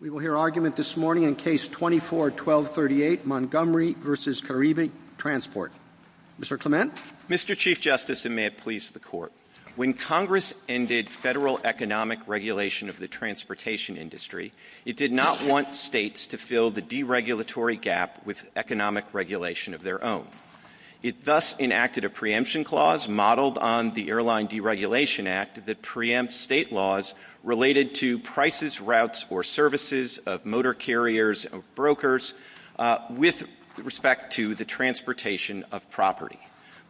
We will hear argument this morning in Case 24-1238, Montgomery v. Caribe Transport. Mr. Clement. Mr. Chief Justice, and may it please the Court. When Congress ended federal economic regulation of the transportation industry, it did not want states to fill the deregulatory gap with economic regulation of their own. It thus enacted a preemption clause modeled on the Airline Deregulation Act that preempts state laws related to prices, routes, or services of motor carriers or brokers with respect to the transportation of property.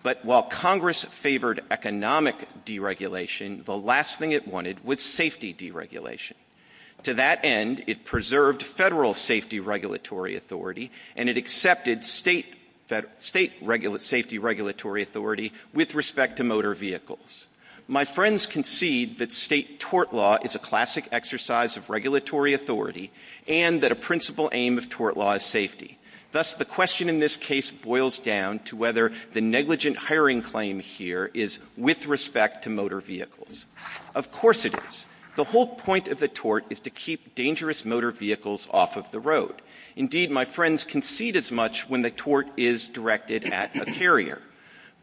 But while Congress favored economic deregulation, the last thing it wanted was safety deregulation. To that end, it preserved federal safety regulatory authority, and it accepted state safety regulatory authority with respect to motor vehicles. My friends concede that state tort law is a classic exercise of regulatory authority and that a principal aim of tort law is safety. Thus, the question in this case boils down to whether the negligent hiring claim here is with respect to motor vehicles. Of course it is. The whole point of the tort is to keep dangerous motor vehicles off of the road. Indeed, my friends concede as much when the tort is directed at a carrier.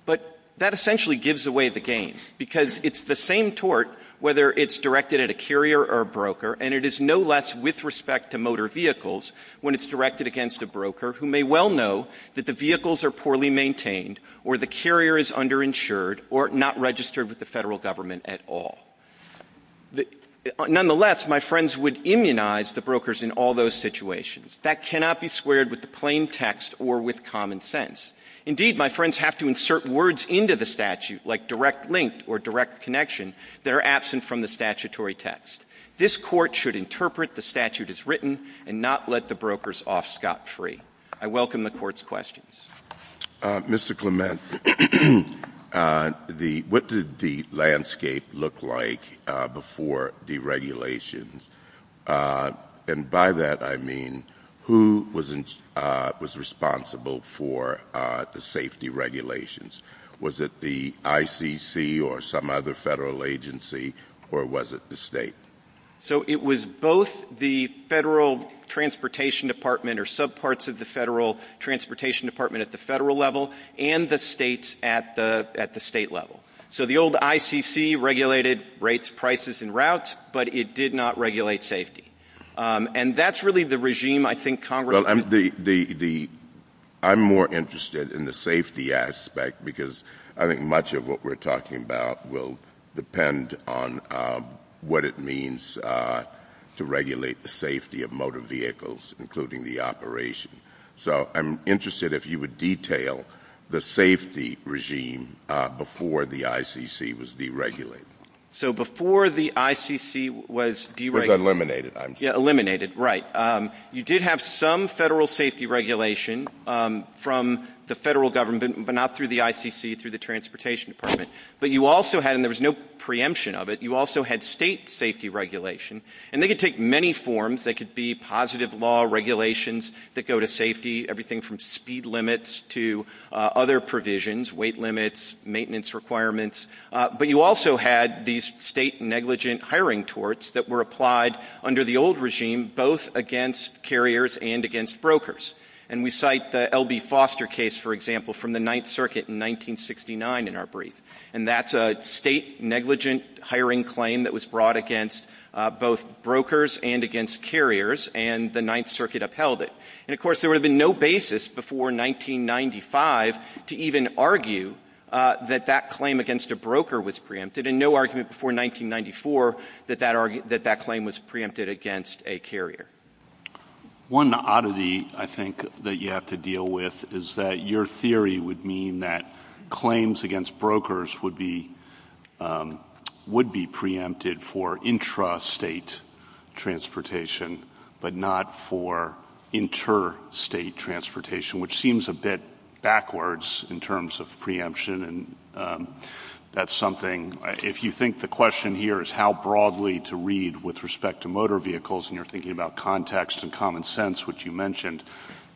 But that essentially gives away the game, because it's the same tort whether it's directed at a carrier or broker, and it is no less with respect to motor vehicles when it's directed against a broker, who may well know that the vehicles are poorly maintained or the carrier is underinsured or not registered with the federal government at all. Nonetheless, my friends would immunize the brokers in all those situations. That cannot be squared with the plain text or with common sense. Indeed, my friends have to insert words into the statute, like direct link or direct connection, that are absent from the statutory text. This court should interpret the statute as written and not let the brokers off scot-free. I welcome the Court's questions. Mr. Clement, what did the landscape look like before deregulation? And by that I mean who was responsible for the safety regulations? Was it the ICC or some other federal agency, or was it the state? So it was both the federal transportation department or subparts of the federal transportation department at the federal level and the states at the state level. So the old ICC regulated rates, prices, and routes, but it did not regulate safety. And that's really the regime I think Congress— Well, I'm more interested in the safety aspect because I think much of what we're talking about will depend on what it means to regulate the safety of motor vehicles, including the operation. So I'm interested if you would detail the safety regime before the ICC was deregulated. So before the ICC was deregulated— It was eliminated, I'm sure. Eliminated, right. You did have some federal safety regulation from the federal government, but not through the ICC, through the transportation department. But you also had—and there was no preemption of it—you also had state safety regulation. And they could take many forms. They could be positive law regulations that go to safety, everything from speed limits to other provisions, weight limits, maintenance requirements. But you also had these state negligent hiring torts that were applied under the old regime, both against carriers and against brokers. And we cite the L.B. Foster case, for example, from the Ninth Circuit in 1969 in our brief. And that's a state negligent hiring claim that was brought against both brokers and against carriers, and the Ninth Circuit upheld it. And, of course, there would have been no basis before 1995 to even argue that that claim against a broker was preempted, and no argument before 1994 that that claim was preempted against a carrier. One oddity, I think, that you have to deal with is that your theory would mean that claims against brokers would be preempted for intrastate transportation but not for interstate transportation, which seems a bit backwards in terms of preemption. And that's something—if you think the question here is how broadly to read with respect to motor vehicles and you're thinking about context and common sense, which you mentioned,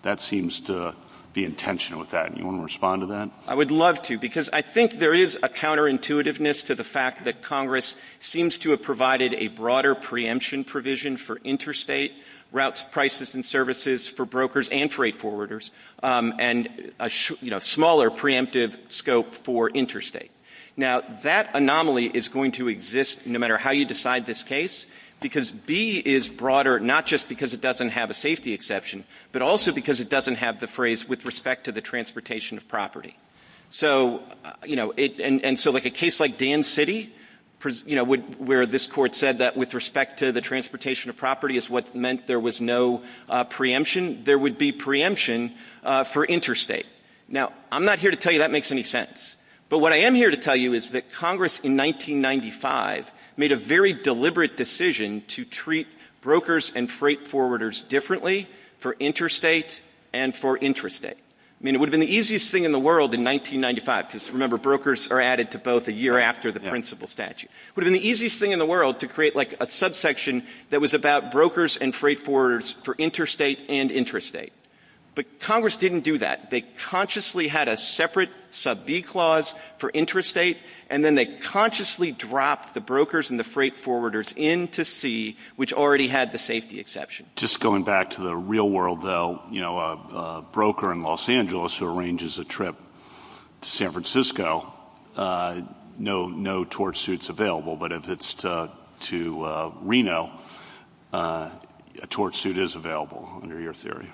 that seems to be in tension with that. Do you want to respond to that? I would love to, because I think there is a counterintuitiveness to the fact that Congress seems to have provided a broader preemption provision for interstate routes, prices, and services for brokers and trade forwarders, and a smaller preemptive scope for interstate. Now, that anomaly is going to exist no matter how you decide this case, because B is broader not just because it doesn't have a safety exception but also because it doesn't have the phrase with respect to the transportation of property. And so a case like Dan City, where this court said that with respect to the transportation of property is what meant there was no preemption, there would be preemption for interstate. Now, I'm not here to tell you that makes any sense. But what I am here to tell you is that Congress in 1995 made a very deliberate decision to treat brokers and freight forwarders differently for interstate and for intrastate. I mean, it would have been the easiest thing in the world in 1995, because remember brokers are added to both a year after the principle statute. It would have been the easiest thing in the world to create like a subsection that was about brokers and freight forwarders for interstate and intrastate. But Congress didn't do that. They consciously had a separate sub-B clause for intrastate, and then they consciously dropped the brokers and the freight forwarders into C, which already had the safety exception. Just going back to the real world, though, a broker in Los Angeles who arranges a trip to San Francisco, no torch suits available. But if it's to Reno, a torch suit is available under your theory.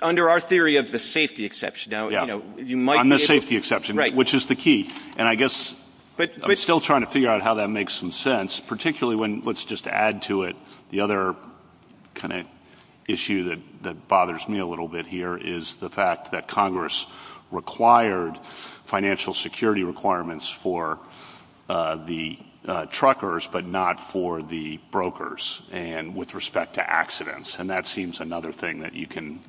Under our theory of the safety exception. On the safety exception, which is the key. And I guess I'm still trying to figure out how that makes some sense, particularly when let's just add to it the other kind of issue that bothers me a little bit here is the fact that Congress required financial security requirements for the truckers, but not for the brokers with respect to accidents. And that seems another thing that you can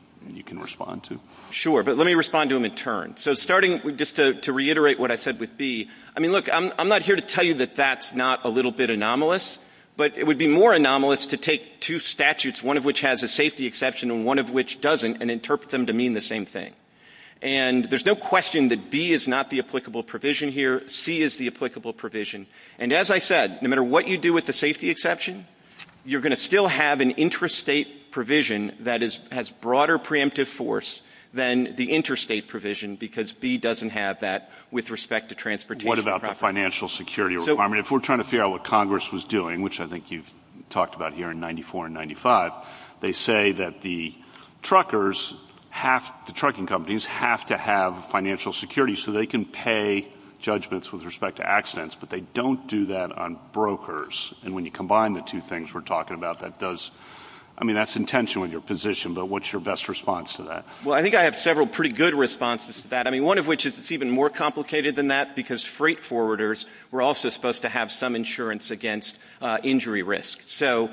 respond to. Sure, but let me respond to them in turn. So starting just to reiterate what I said with B, I mean, look, I'm not here to tell you that that's not a little bit anomalous, but it would be more anomalous to take two statutes, one of which has a safety exception and one of which doesn't, and interpret them to mean the same thing. And there's no question that B is not the applicable provision here. C is the applicable provision. And as I said, no matter what you do with the safety exception, you're going to still have an intrastate provision that has broader preemptive force than the intrastate provision because B doesn't have that with respect to transportation. What about the financial security requirement? If we're trying to figure out what Congress was doing, which I think you've talked about here in 94 and 95, they say that the truckers, the trucking companies, have to have financial security so they can pay judgments with respect to accidents, but they don't do that on brokers. And when you combine the two things we're talking about, that does – I mean, that's intentional in your position, but what's your best response to that? Well, I think I have several pretty good responses to that. I mean, one of which is it's even more complicated than that because freight forwarders were also supposed to have some insurance against injury risk. So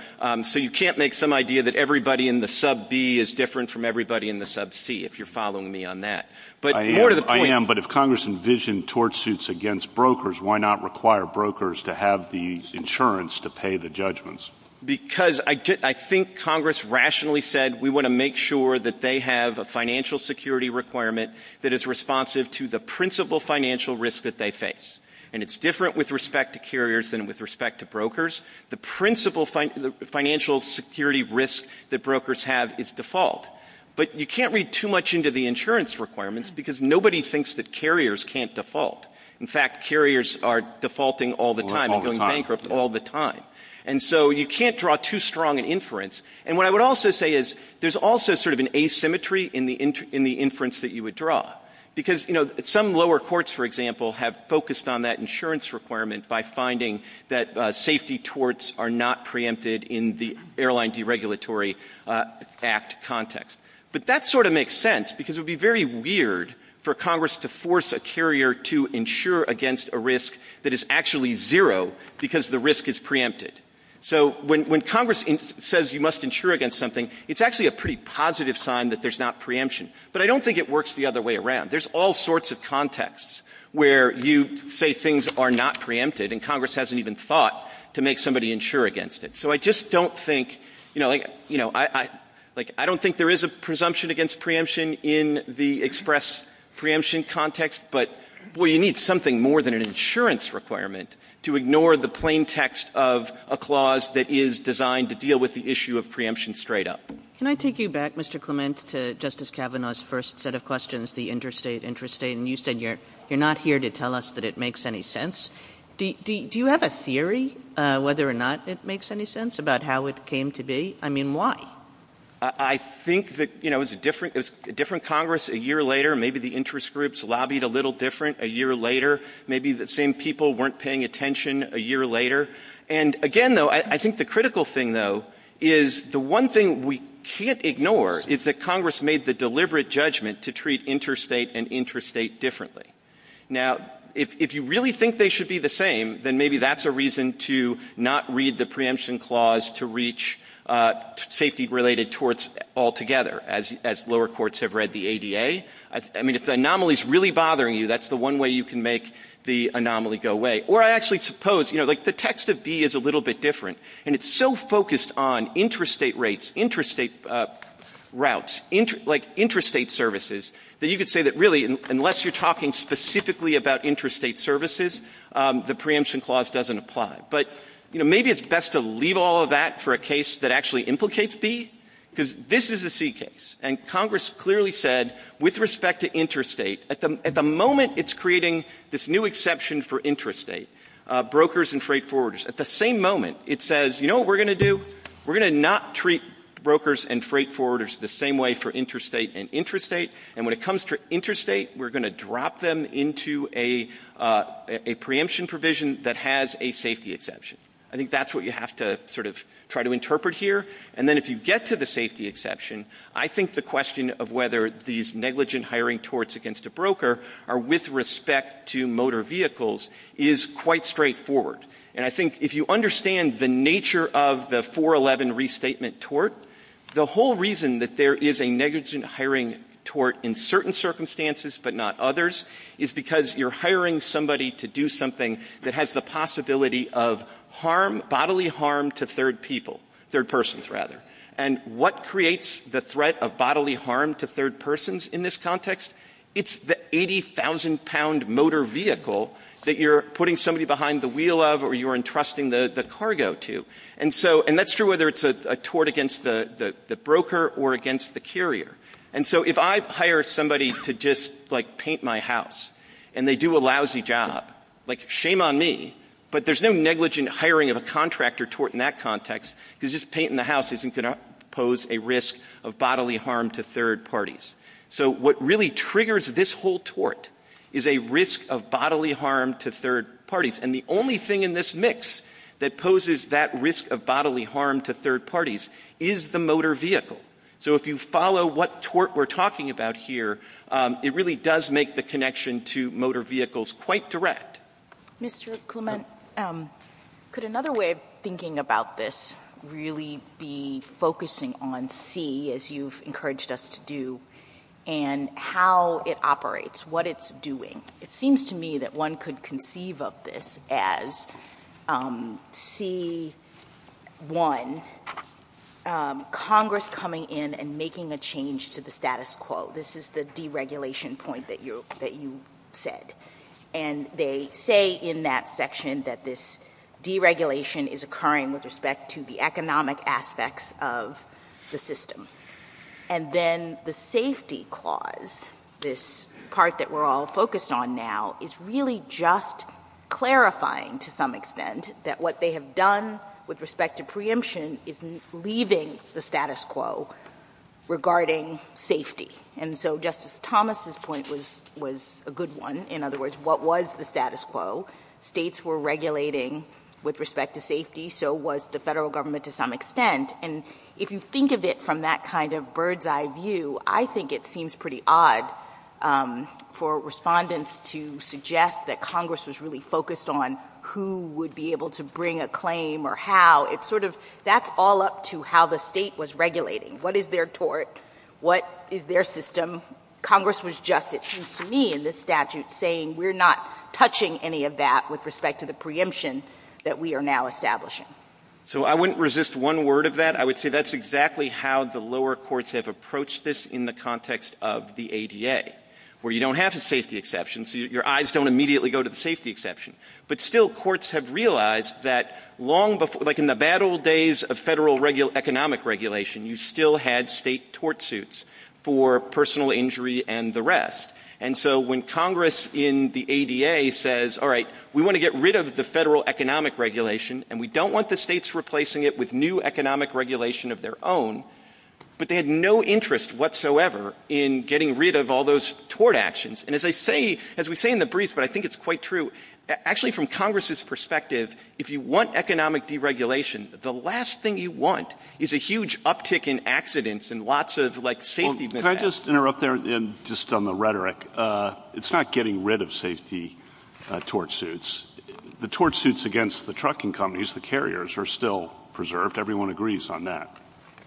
you can't make some idea that everybody in the sub B is different from everybody in the sub C, if you're following me on that. I am, but if Congress envisioned torch suits against brokers, why not require brokers to have the insurance to pay the judgments? Because I think Congress rationally said, we want to make sure that they have a financial security requirement that is responsive to the principal financial risk that they face. And it's different with respect to carriers than with respect to brokers. The principal financial security risk that brokers have is default. But you can't read too much into the insurance requirements because nobody thinks that carriers can't default. In fact, carriers are defaulting all the time and going bankrupt all the time. And so you can't draw too strong an inference. And what I would also say is there's also sort of an asymmetry in the inference that you would draw. Because, you know, some lower courts, for example, have focused on that insurance requirement by finding that safety torts are not preempted in the Airline Deregulatory Act context. But that sort of makes sense because it would be very weird for Congress to force a carrier to insure against a risk that is actually zero because the risk is preempted. So when Congress says you must insure against something, it's actually a pretty positive sign that there's not preemption. But I don't think it works the other way around. There's all sorts of contexts where you say things are not preempted, and Congress hasn't even thought to make somebody insure against it. So I just don't think, you know, like I don't think there is a presumption against preemption in the express preemption context. But, well, you need something more than an insurance requirement to ignore the plain text of a clause that is designed to deal with the issue of preemption straight up. Can I take you back, Mr. Clement, to Justice Kavanaugh's first set of questions, the interstate, interstate, and you said you're not here to tell us that it makes any sense. Do you have a theory whether or not it makes any sense about how it came to be? I mean, why? I think that, you know, it was a different Congress a year later. Maybe the interest groups lobbied a little different a year later. Maybe the same people weren't paying attention a year later. And, again, though, I think the critical thing, though, is the one thing we can't ignore is that Congress made the deliberate judgment to treat interstate and interstate differently. Now, if you really think they should be the same, then maybe that's a reason to not read the preemption clause to reach safety-related torts altogether, as lower courts have read the ADA. I mean, if the anomaly is really bothering you, that's the one way you can make the anomaly go away. Or I actually suppose, you know, like the text of B is a little bit different, and it's so focused on interstate rates, interstate routes, like interstate services, that you could say that, really, unless you're talking specifically about interstate services, the preemption clause doesn't apply. But, you know, maybe it's best to leave all of that for a case that actually implicates B, because this is a C case, and Congress clearly said, with respect to interstate, at the moment it's creating this new exception for interstate, brokers and freight forwarders. At the same moment, it says, you know what we're going to do? We're going to not treat brokers and freight forwarders the same way for interstate and intrastate, and when it comes to interstate, we're going to drop them into a preemption provision that has a safety exception. I think that's what you have to sort of try to interpret here. And then if you get to the safety exception, I think the question of whether these negligent hiring torts against a broker are with respect to motor vehicles is quite straightforward. And I think if you understand the nature of the 411 restatement tort, the whole reason that there is a negligent hiring tort in certain circumstances, but not others, is because you're hiring somebody to do something that has the possibility of bodily harm to third people, third persons, rather. And what creates the threat of bodily harm to third persons in this context? It's the 80,000-pound motor vehicle that you're putting somebody behind the wheel of or you're entrusting the cargo to. And that's true whether it's a tort against the broker or against the carrier. And so if I hire somebody to just paint my house and they do a lousy job, shame on me, but there's no negligent hiring of a contractor tort in that context, because just painting the house isn't going to pose a risk of bodily harm to third parties. So what really triggers this whole tort is a risk of bodily harm to third parties. And the only thing in this mix that poses that risk of bodily harm to third parties is the motor vehicle. So if you follow what tort we're talking about here, it really does make the connection to motor vehicles quite direct. Ms. Rukuman, could another way of thinking about this really be focusing on C, as you've encouraged us to do, and how it operates, what it's doing? It seems to me that one could conceive of this as C1, Congress coming in and making a change to the status quo. This is the deregulation point that you said. And they say in that section that this deregulation is occurring with respect to the economic aspects of the system. And then the safety clause, this part that we're all focused on now, is really just clarifying to some extent that what they have done with respect to preemption is leaving the status quo regarding safety. And so Justice Thomas' point was a good one. In other words, what was the status quo? States were regulating with respect to safety, so was the federal government to some extent. And if you think of it from that kind of bird's eye view, I think it seems pretty odd for respondents to suggest that Congress was really focused on who would be able to bring a claim or how. It's sort of that's all up to how the state was regulating. What is their tort? What is their system? Congress was just, it seems to me in this statute, saying we're not touching any of that with respect to the preemption that we are now establishing. So I wouldn't resist one word of that. I would say that's exactly how the lower courts have approached this in the context of the ADA, where you don't have a safety exception, so your eyes don't immediately go to the safety exception. But still, courts have realized that long before, like in the bad old days of federal economic regulation, you still had state tort suits for personal injury and the rest. And so when Congress in the ADA says, all right, we want to get rid of the federal economic regulation and we don't want the states replacing it with new economic regulation of their own, but they had no interest whatsoever in getting rid of all those tort actions. And as I say, as we say in the briefs, but I think it's quite true, actually from Congress's perspective, if you want economic deregulation, the last thing you want is a huge uptick in accidents and lots of like safety. Can I just interrupt there just on the rhetoric? It's not getting rid of safety tort suits. The tort suits against the trucking companies, the carriers, are still preserved. Everyone agrees on that.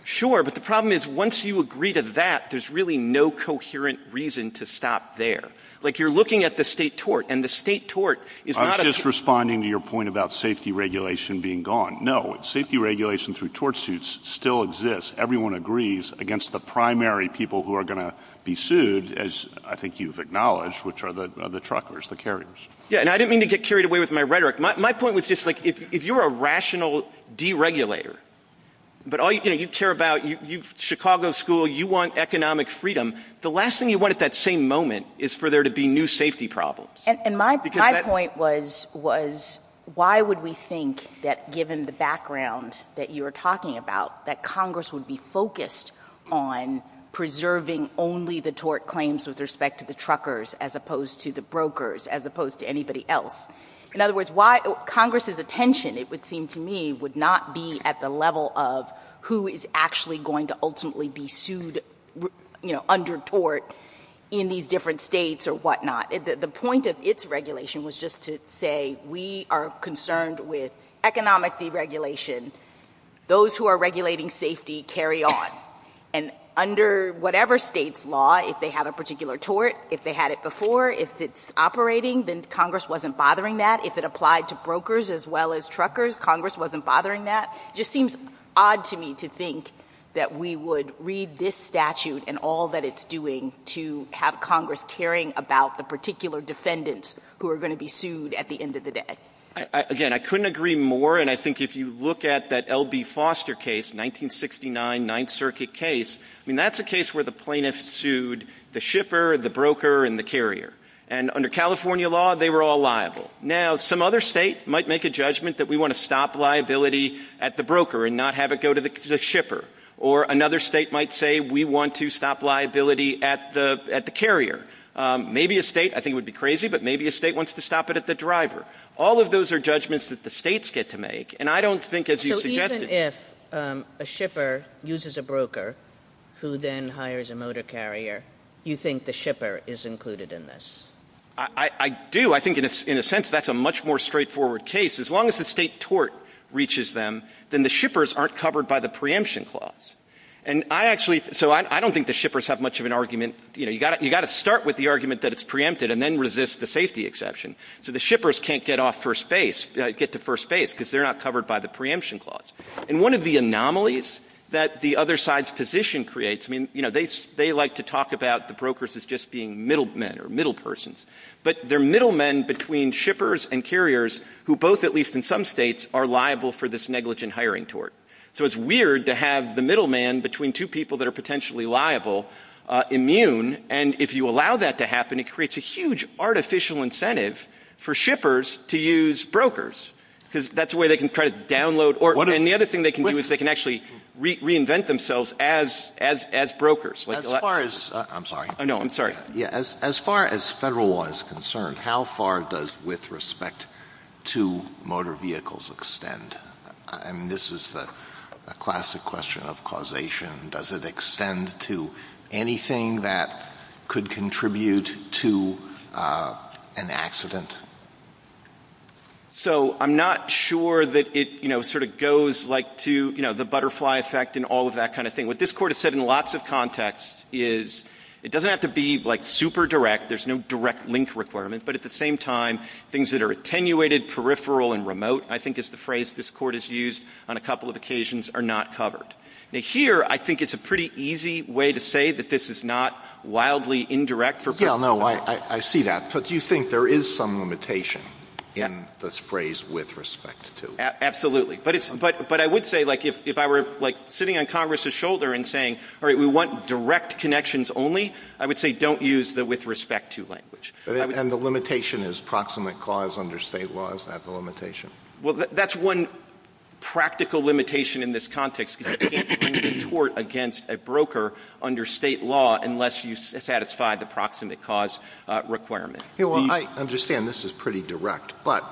Sure, but the problem is once you agree to that, there's really no coherent reason to stop there. Like you're looking at the state tort, and the state tort is not a – I'm just responding to your point about safety regulation being gone. No, safety regulation through tort suits still exists. Everyone agrees against the primary people who are going to be sued, as I think you've acknowledged, which are the truckers, the carriers. Yeah, and I didn't mean to get carried away with my rhetoric. My point was just like if you're a rational deregulator, but all you care about, Chicago school, you want economic freedom, the last thing you want at that same moment is for there to be new safety problems. And my point was why would we think that given the background that you were talking about, that Congress would be focused on preserving only the tort claims with respect to the truckers as opposed to the brokers, as opposed to anybody else? In other words, why Congress's attention, it would seem to me, would not be at the level of who is actually going to ultimately be sued under tort in these different states or whatnot. The point of its regulation was just to say we are concerned with economic deregulation. Those who are regulating safety carry on. And under whatever state's law, if they have a particular tort, if they had it before, if it's operating, then Congress wasn't bothering that. If it applied to brokers as well as truckers, Congress wasn't bothering that. It just seems odd to me to think that we would read this statute and all that it's doing to have Congress caring about the particular defendants who are going to be sued at the end of the day. Again, I couldn't agree more. And I think if you look at that L.B. Foster case, 1969 Ninth Circuit case, that's a case where the plaintiffs sued the shipper, the broker, and the carrier. And under California law, they were all liable. Now, some other state might make a judgment that we want to stop liability at the broker and not have it go to the shipper. Or another state might say we want to stop liability at the carrier. Maybe a state, I think it would be crazy, but maybe a state wants to stop it at the driver. All of those are judgments that the states get to make. And I don't think, as you suggested — So even if a shipper uses a broker who then hires a motor carrier, you think the shipper is included in this? I do. I think in a sense that's a much more straightforward case. As long as the state tort reaches them, then the shippers aren't covered by the preemption clause. And I actually — so I don't think the shippers have much of an argument. You know, you've got to start with the argument that it's preempted and then resist the safety exception. So the shippers can't get off first base, get to first base, because they're not covered by the preemption clause. And one of the anomalies that the other side's position creates — I mean, you know, they like to talk about the brokers as just being middlemen or middlepersons. But they're middlemen between shippers and carriers who both, at least in some states, are liable for this negligent hiring tort. So it's weird to have the middleman between two people that are potentially liable immune. And if you allow that to happen, it creates a huge artificial incentive for shippers to use brokers. Because that's a way they can try to download — And the other thing they can do is they can actually reinvent themselves as brokers. As far as — I'm sorry. No, I'm sorry. As far as federal law is concerned, how far does with respect to motor vehicles extend? I mean, this is a classic question of causation. Does it extend to anything that could contribute to an accident? So I'm not sure that it, you know, sort of goes, like, to, you know, the butterfly effect and all of that kind of thing. What this Court has said in lots of contexts is it doesn't have to be, like, super direct. There's no direct link requirement. But at the same time, things that are attenuated, peripheral, and remote, I think is the phrase this Court has used on a couple of occasions, are not covered. Now, here, I think it's a pretty easy way to say that this is not wildly indirect for — Yeah, no, I see that. But do you think there is some limitation in this phrase, with respect to? Absolutely. But I would say, like, if I were, like, sitting on Congress's shoulder and saying, all right, we want direct connections only, I would say don't use the with respect to language. And the limitation is proximate cause under state law. Is that the limitation? Well, that's one practical limitation in this context, because you can't bring a court against a broker under state law unless you satisfy the proximate cause requirement. Yeah, well, I understand this is pretty direct. But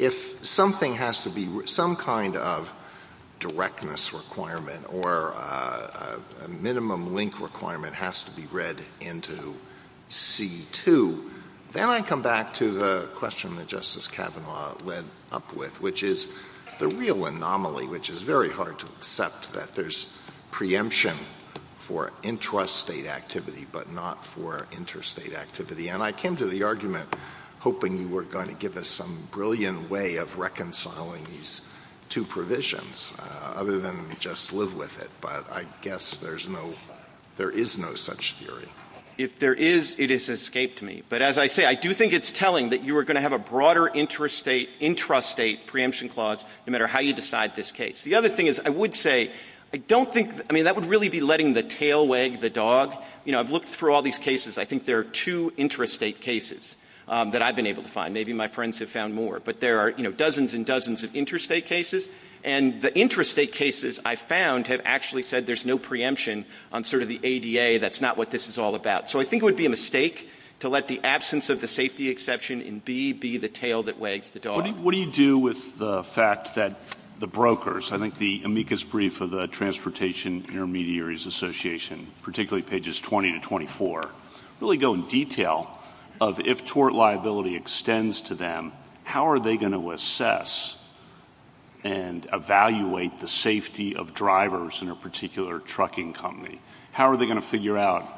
if something has to be — some kind of directness requirement or a minimum link requirement has to be read into C-2, then I come back to the question that Justice Kavanaugh led up with, which is the real anomaly, which is very hard to accept, that there's preemption for intrastate activity but not for interstate activity. And I came to the argument hoping you were going to give us some brilliant way of reconciling these two provisions, other than just live with it. But I guess there is no such theory. If there is, it has escaped me. But as I say, I do think it's telling that you are going to have a broader intrastate preemption clause, no matter how you decide this case. The other thing is, I would say, I don't think — I mean, that would really be letting the tail wag the dog. You know, I've looked through all these cases. I think there are two intrastate cases that I've been able to find. Maybe my friends have found more. But there are, you know, dozens and dozens of intrastate cases. And the intrastate cases I've found have actually said there's no preemption on sort of the ADA. That's not what this is all about. So I think it would be a mistake to let the absence of the safety exception in B be the tail that wags the dog. What do you do with the fact that the brokers — I think the amicus brief of the Transportation Intermediaries Association, particularly pages 20 to 24, really go in detail of if tort liability extends to them, how are they going to assess and evaluate the safety of drivers in a particular trucking company? How are they going to figure out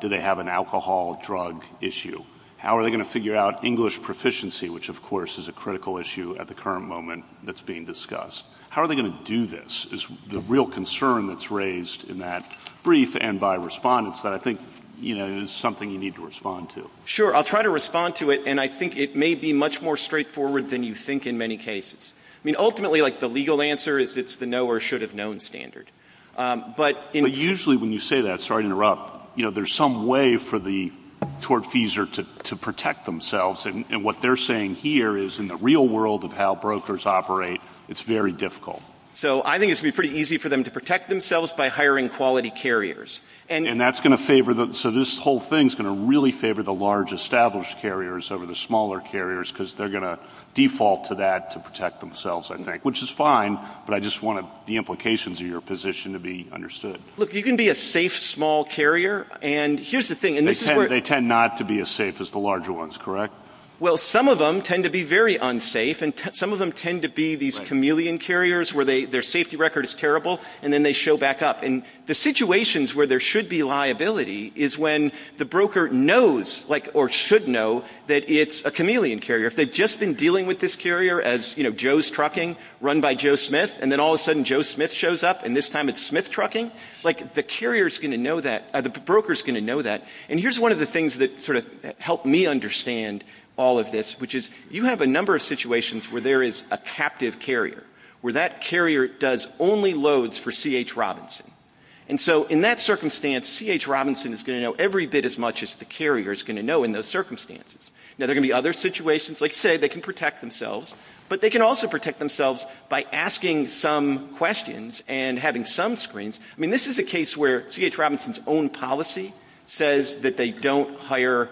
do they have an alcohol or drug issue? How are they going to figure out English proficiency, which, of course, is a critical issue at the current moment that's being discussed? How are they going to do this is the real concern that's raised in that brief and by respondents that I think, you know, is something you need to respond to. Sure. I'll try to respond to it. And I think it may be much more straightforward than you think in many cases. I mean, ultimately, like the legal answer is it's the no or should have known standard. But usually when you say that, sorry to interrupt, you know, there's some way for the tortfeasor to protect themselves. And what they're saying here is in the real world of how brokers operate, it's very difficult. So I think it's going to be pretty easy for them to protect themselves by hiring quality carriers. And that's going to favor them. So this whole thing is going to really favor the large established carriers over the smaller carriers because they're going to default to that to protect themselves, I think, which is fine. But I just want the implications of your position to be understood. Look, you can be a safe small carrier. And here's the thing. They tend not to be as safe as the larger ones, correct? Well, some of them tend to be very unsafe. And some of them tend to be these chameleon carriers where their safety record is terrible. And then they show back up. And the situations where there should be liability is when the broker knows or should know that it's a chameleon carrier. If they've just been dealing with this carrier as Joe's Trucking run by Joe Smith and then all of a sudden Joe Smith shows up and this time it's Smith Trucking, like the carrier is going to know that or the broker is going to know that. And here's one of the things that sort of helped me understand all of this, which is you have a number of situations where there is a captive carrier where that carrier does only loads for C.H. Robinson. And so in that circumstance, C.H. Robinson is going to know every bit as much as the carrier is going to know in those circumstances. Now, there are going to be other situations. Like I said, they can protect themselves. But they can also protect themselves by asking some questions and having some screens. I mean, this is a case where C.H. Robinson's own policy says that they don't hire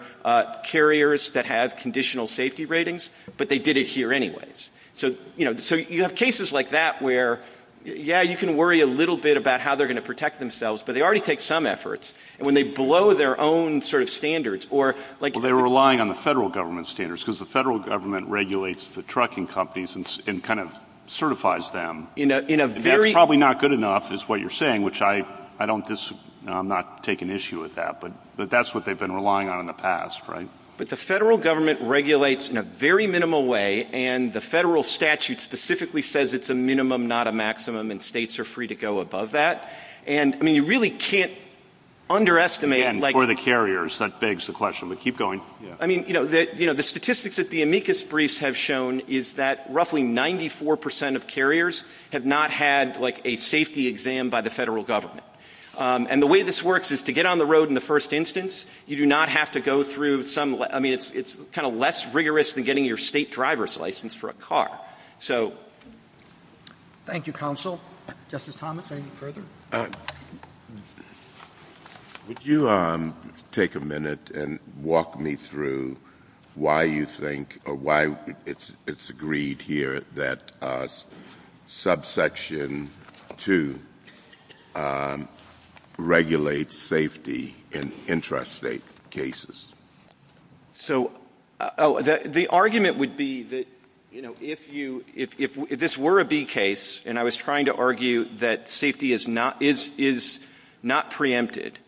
carriers that have conditional safety ratings, but they did it here anyways. So, you know, you have cases like that where, yeah, you can worry a little bit about how they're going to protect themselves, but they already take some efforts. And when they blow their own sort of standards or like... Well, they're relying on the federal government standards because the federal government regulates the trucking companies and kind of certifies them. That's probably not good enough is what you're saying, which I don't disagree. I'm not taking issue with that, but that's what they've been relying on in the past, right? But the federal government regulates in a very minimal way and the federal statute specifically says it's a minimum, not a maximum, and states are free to go above that. And, I mean, you really can't underestimate... Again, for the carriers, that begs the question, but keep going. I mean, you know, the statistics that the amicus briefs have shown is that roughly 94 percent of carriers have not had like a safety exam by the federal government. And the way this works is to get on the road in the first instance, you do not have to go through some... I mean, it's kind of less rigorous than getting your state driver's license for a car. Thank you, Counsel. Justice Thomas, any further? Would you take a minute and walk me through why you think or why it's agreed here that subsection 2 regulates safety in intrastate cases? So, oh, the argument would be that, you know, if this were a B case and I was trying to argue that safety is not preempted,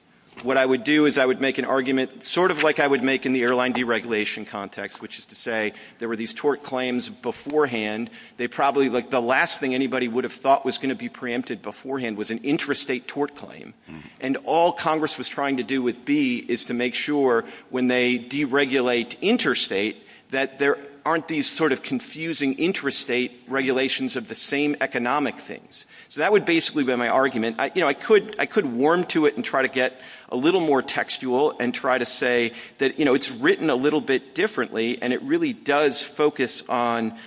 what I would do is I would make an argument sort of like I would make in the airline deregulation context, which is to say there were these tort claims beforehand. They probably, like, the last thing anybody would have thought was going to be preempted beforehand was an intrastate tort claim. And all Congress was trying to do with B is to make sure when they deregulate intrastate that there aren't these sort of confusing intrastate regulations of the same economic things. So that would basically be my argument. You know, I could warm to it and try to get a little more textual and try to say that, you know, it's written a little bit differently and it really does focus on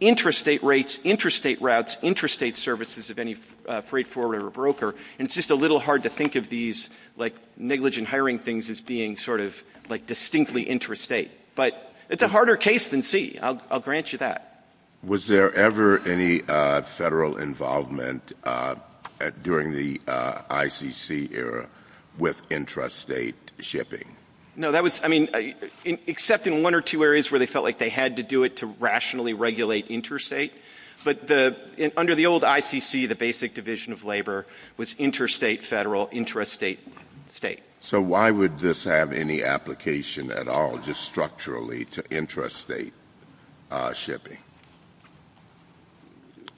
intrastate rates, intrastate routes, intrastate services of any freight forwarder or broker. And it's just a little hard to think of these, like, negligent hiring things as being sort of like distinctly intrastate. But it's a harder case than C. I'll grant you that. Was there ever any federal involvement during the ICC era with intrastate shipping? No, that was, I mean, except in one or two areas where they felt like they had to do it to rationally regulate intrastate. But under the old ICC, the basic division of labor was interstate federal, intrastate state. So why would this have any application at all just structurally to intrastate shipping?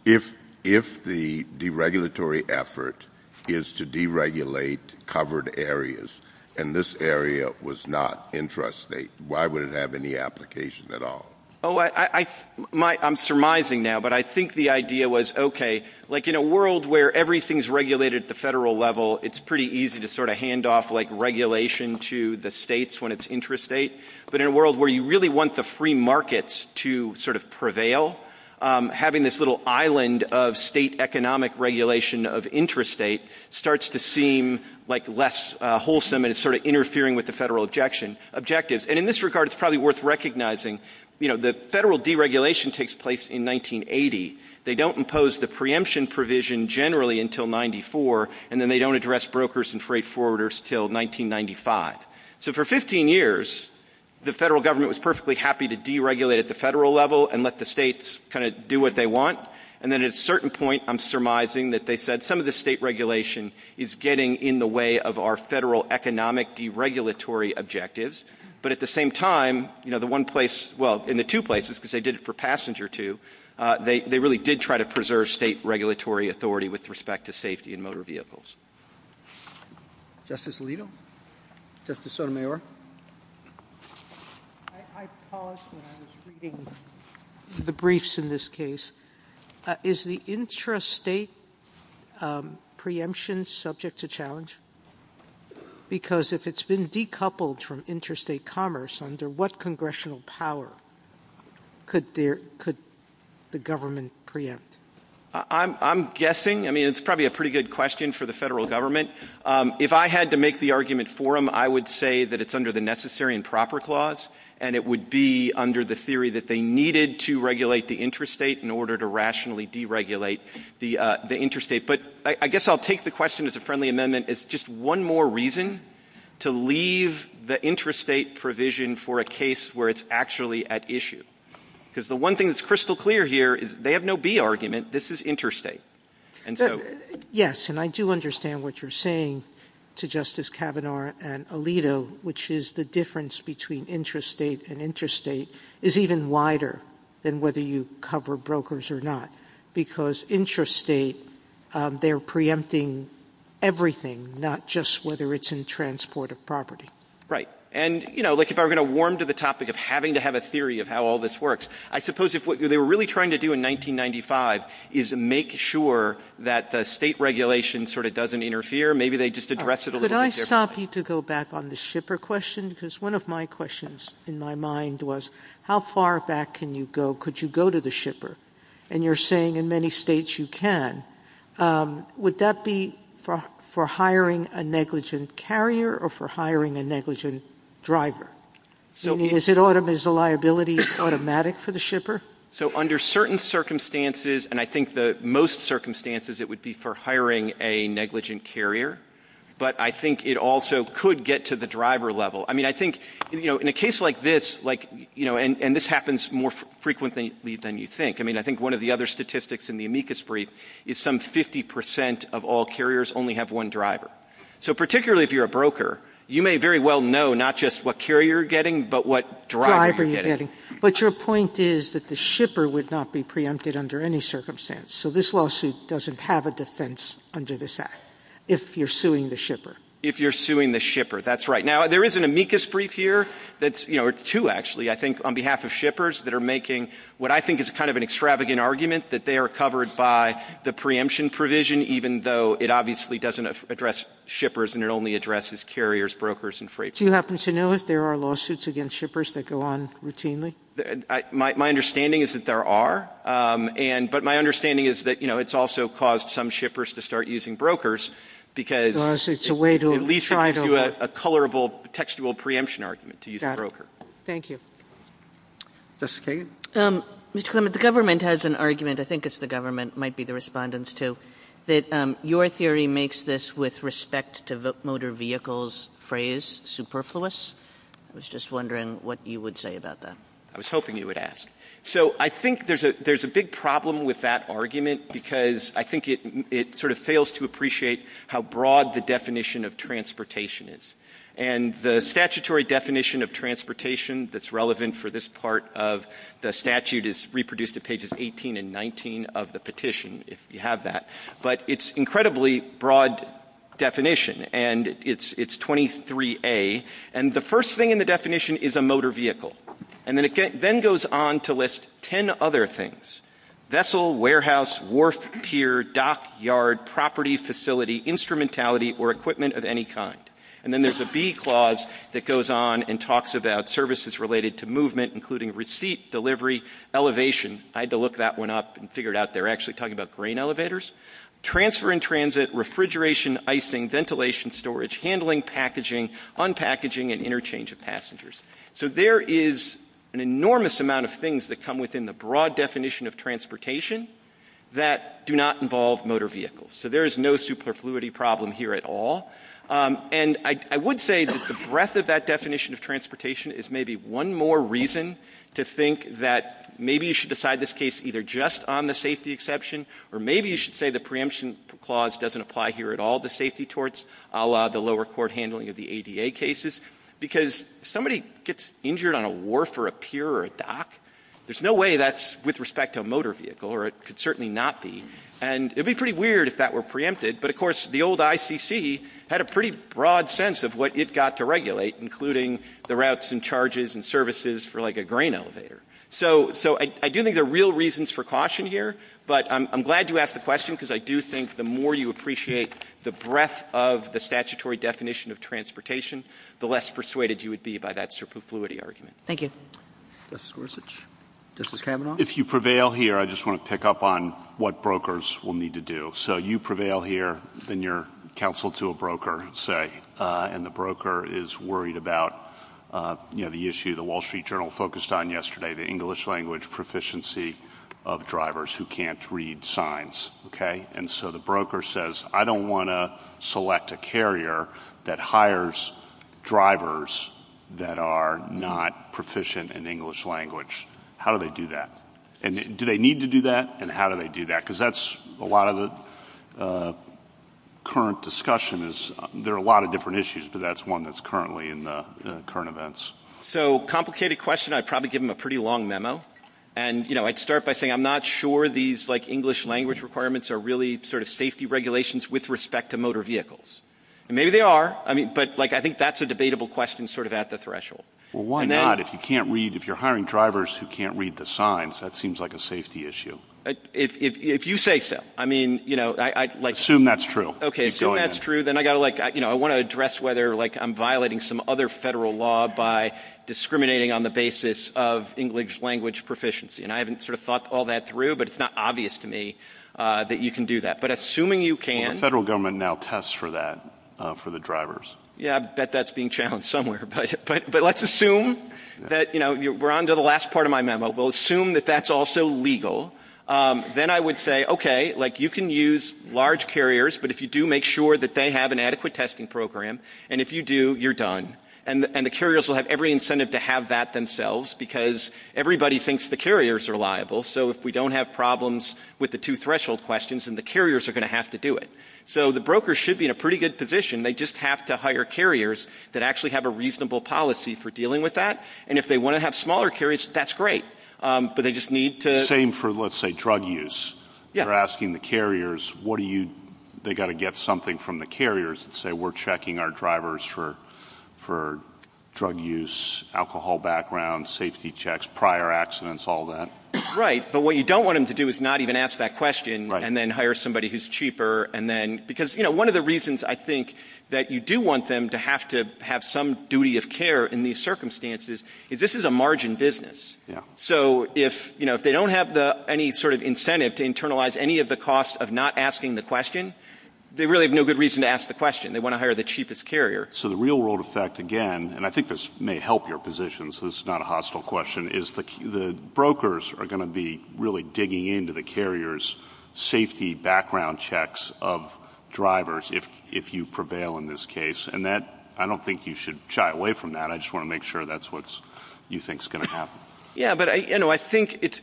If the deregulatory effort is to deregulate covered areas and this area was not intrastate, why would it have any application at all? Oh, I'm surmising now. But I think the idea was, okay, like in a world where everything's regulated at the federal level, it's pretty easy to sort of hand off, like, regulation to the states when it's intrastate. But in a world where you really want the free markets to sort of prevail, having this little island of state economic regulation of intrastate starts to seem like less wholesome and it's sort of interfering with the federal objectives. And in this regard, it's probably worth recognizing, you know, the federal deregulation takes place in 1980. They don't impose the preemption provision generally until 94, and then they don't address brokers and freight forwarders until 1995. So for 15 years, the federal government was perfectly happy to deregulate at the federal level and let the states kind of do what they want. And then at a certain point, I'm surmising that they said some of the state regulation is getting in the way of our federal economic deregulatory objectives. But at the same time, you know, in the two places, because they did it for passenger too, they really did try to preserve state regulatory authority with respect to safety in motor vehicles. Justice Alito? Justice Sotomayor? I paused when I was reading the briefs in this case. Is the intrastate preemption subject to challenge? Because if it's been decoupled from intrastate commerce, under what congressional power could the government preempt? I'm guessing. I mean, it's probably a pretty good question for the federal government. If I had to make the argument for them, I would say that it's under the Necessary and Proper Clause, and it would be under the theory that they needed to regulate the intrastate in order to rationally deregulate the intrastate. But I guess I'll take the question as a friendly amendment. It's just one more reason to leave the intrastate provision for a case where it's actually at issue. Because the one thing that's crystal clear here is they have no B argument. This is intrastate. Yes, and I do understand what you're saying to Justice Kavanaugh and Alito, which is the difference between intrastate and intrastate is even wider than whether you cover brokers or not. Because intrastate, they're preempting everything, not just whether it's in transport or property. And, you know, like if I were going to warm to the topic of having to have a theory of how all this works, I suppose if what they were really trying to do in 1995 is make sure that the state regulation sort of doesn't interfere, maybe they just address it a little bit differently. Could I stop you to go back on the shipper question? Because one of my questions in my mind was, how far back can you go? Could you go to the shipper? And you're saying in many states you can. Would that be for hiring a negligent carrier or for hiring a negligent driver? Is the liability automatic for the shipper? So under certain circumstances, and I think the most circumstances, it would be for hiring a negligent carrier. But I think it also could get to the driver level. I mean, I think, you know, in a case like this, like, you know, and this happens more frequently than you think. I mean, I think one of the other statistics in the amicus brief is some 50 percent of all carriers only have one driver. So particularly if you're a broker, you may very well know not just what carrier you're getting but what driver you're getting. But your point is that the shipper would not be preempted under any circumstance. So this lawsuit doesn't have a defense under this act if you're suing the shipper. If you're suing the shipper, that's right. Now, there is an amicus brief here that's, you know, two actually, I think, on behalf of shippers that are making what I think is kind of an extravagant argument, that they are covered by the preemption provision even though it obviously doesn't address shippers and it only addresses carriers, brokers, and freighters. Do you happen to know if there are lawsuits against shippers that go on routinely? My understanding is that there are. But my understanding is that, you know, it's also caused some shippers to start using brokers because it leads to a colorable, textual preemption argument to use a broker. Thank you. Ms. Kagan? Mr. Clement, the government has an argument, I think it's the government, might be the respondents too, that your theory makes this with respect to motor vehicles phrase superfluous. I was just wondering what you would say about that. I was hoping you would ask. So I think there's a big problem with that argument because I think it sort of fails to appreciate how broad the definition of transportation is. And the statutory definition of transportation that's relevant for this part of the statute is reproduced at pages 18 and 19 of the petition, if you have that. But it's an incredibly broad definition, and it's 23A. And the first thing in the definition is a motor vehicle. And then it then goes on to list ten other things, vessel, warehouse, wharf, pier, dock, yard, property, facility, instrumentality, or equipment of any kind. And then there's a B clause that goes on and talks about services related to movement, including receipt, delivery, elevation. I had to look that one up and figure it out. They're actually talking about grain elevators. Transfer and transit, refrigeration, icing, ventilation, storage, handling, packaging, unpackaging, and interchange of passengers. So there is an enormous amount of things that come within the broad definition of transportation that do not involve motor vehicles. So there is no superfluity problem here at all. And I would say that the breadth of that definition of transportation is maybe one more reason to think that maybe you should decide this case either just on the safety exception, or maybe you should say the preemption clause doesn't apply here at all to safety torts, a la the lower court handling of the ADA cases. Because if somebody gets injured on a wharf or a pier or a dock, there's no way that's with respect to a motor vehicle, or it could certainly not be. And it would be pretty weird if that were preempted. But, of course, the old ICC had a pretty broad sense of what it got to regulate, including the routes and charges and services for, like, a grain elevator. So I do think there are real reasons for caution here. But I'm glad you asked the question because I do think the more you appreciate the breadth of the statutory definition of transportation, the less persuaded you would be by that superfluity argument. Thank you. Justice Worsitch? Justice Kavanaugh? If you prevail here, I just want to pick up on what brokers will need to do. So you prevail here in your counsel to a broker, say, and the broker is worried about, you know, the issue the Wall Street Journal focused on yesterday, the English language proficiency of drivers who can't read signs. Okay? And so the broker says, I don't want to select a carrier that hires drivers that are not proficient in English language. How do they do that? And do they need to do that? And how do they do that? Because that's a lot of the current discussion is there are a lot of different issues, but that's one that's currently in the current events. So complicated question. I'd probably give them a pretty long memo. And, you know, I'd start by saying I'm not sure these, like, English language requirements are really sort of safety regulations with respect to motor vehicles. Maybe they are. But, like, I think that's a debatable question sort of at the threshold. Well, why not? If you can't read, if you're hiring drivers who can't read the signs, that seems like a safety issue. If you say so. Assume that's true. Assume that's true. Then I want to address whether, like, I'm violating some other federal law by discriminating on the basis of English language proficiency. And I haven't sort of thought all that through, but it's not obvious to me that you can do that. But assuming you can. Well, the federal government now tests for that for the drivers. Yeah, I bet that's being challenged somewhere. But let's assume that, you know, we're on to the last part of my memo. We'll assume that that's also legal. Then I would say, okay, like, you can use large carriers. But if you do, make sure that they have an adequate testing program. And if you do, you're done. And the carriers will have every incentive to have that themselves because everybody thinks the carriers are liable. So if we don't have problems with the two threshold questions, then the carriers are going to have to do it. So the broker should be in a pretty good position. They just have to hire carriers that actually have a reasonable policy for dealing with that. And if they want to have smaller carriers, that's great. But they just need to. Same for, let's say, drug use. They're asking the carriers, what do you. They've got to get something from the carriers that say we're checking our drivers for drug use, alcohol background, safety checks, prior accidents, all that. Right. But what you don't want them to do is not even ask that question and then hire somebody who's cheaper. Because one of the reasons I think that you do want them to have to have some duty of care in these circumstances is this is a margin business. So if they don't have any sort of incentive to internalize any of the cost of not asking the question, they really have no good reason to ask the question. They want to hire the cheapest carrier. So the real world effect, again, and I think this may help your position so this is not a hostile question, is the brokers are going to be really digging into the carriers' safety background checks of drivers if you prevail in this case. And I don't think you should shy away from that. I just want to make sure that's what you think is going to happen. Yeah, but, you know, I think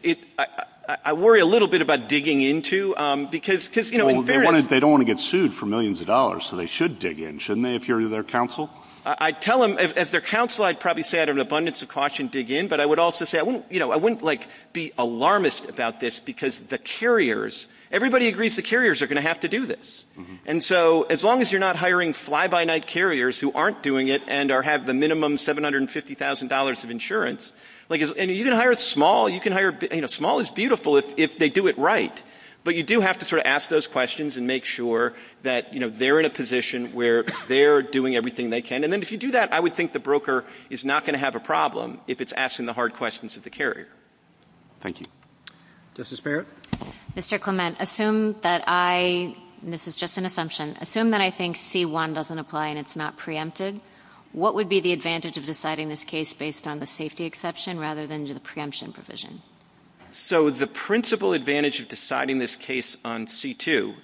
I worry a little bit about digging into because... Well, they don't want to get sued for millions of dollars, so they should dig in, shouldn't they, if you're their counsel? I'd tell them, if they're counsel, I'd probably say out of an abundance of caution, dig in. But I would also say I wouldn't be alarmist about this because the carriers, everybody agrees the carriers are going to have to do this. And so as long as you're not hiring fly-by-night carriers who aren't doing it and have the minimum $750,000 of insurance... And you can hire small, you can hire, you know, small is beautiful if they do it right. But you do have to sort of ask those questions and make sure that, you know, they're in a position where they're doing everything they can. And then if you do that, I would think the broker is not going to have a problem if it's asking the hard questions of the carrier. Thank you. Justice Barrett? Mr. Clement, assume that I, and this is just an assumption, assume that I think C-1 doesn't apply and it's not preempted. What would be the advantage of deciding this case based on the safety exception rather than the preemption provision? So the principal advantage of deciding this case on C-2,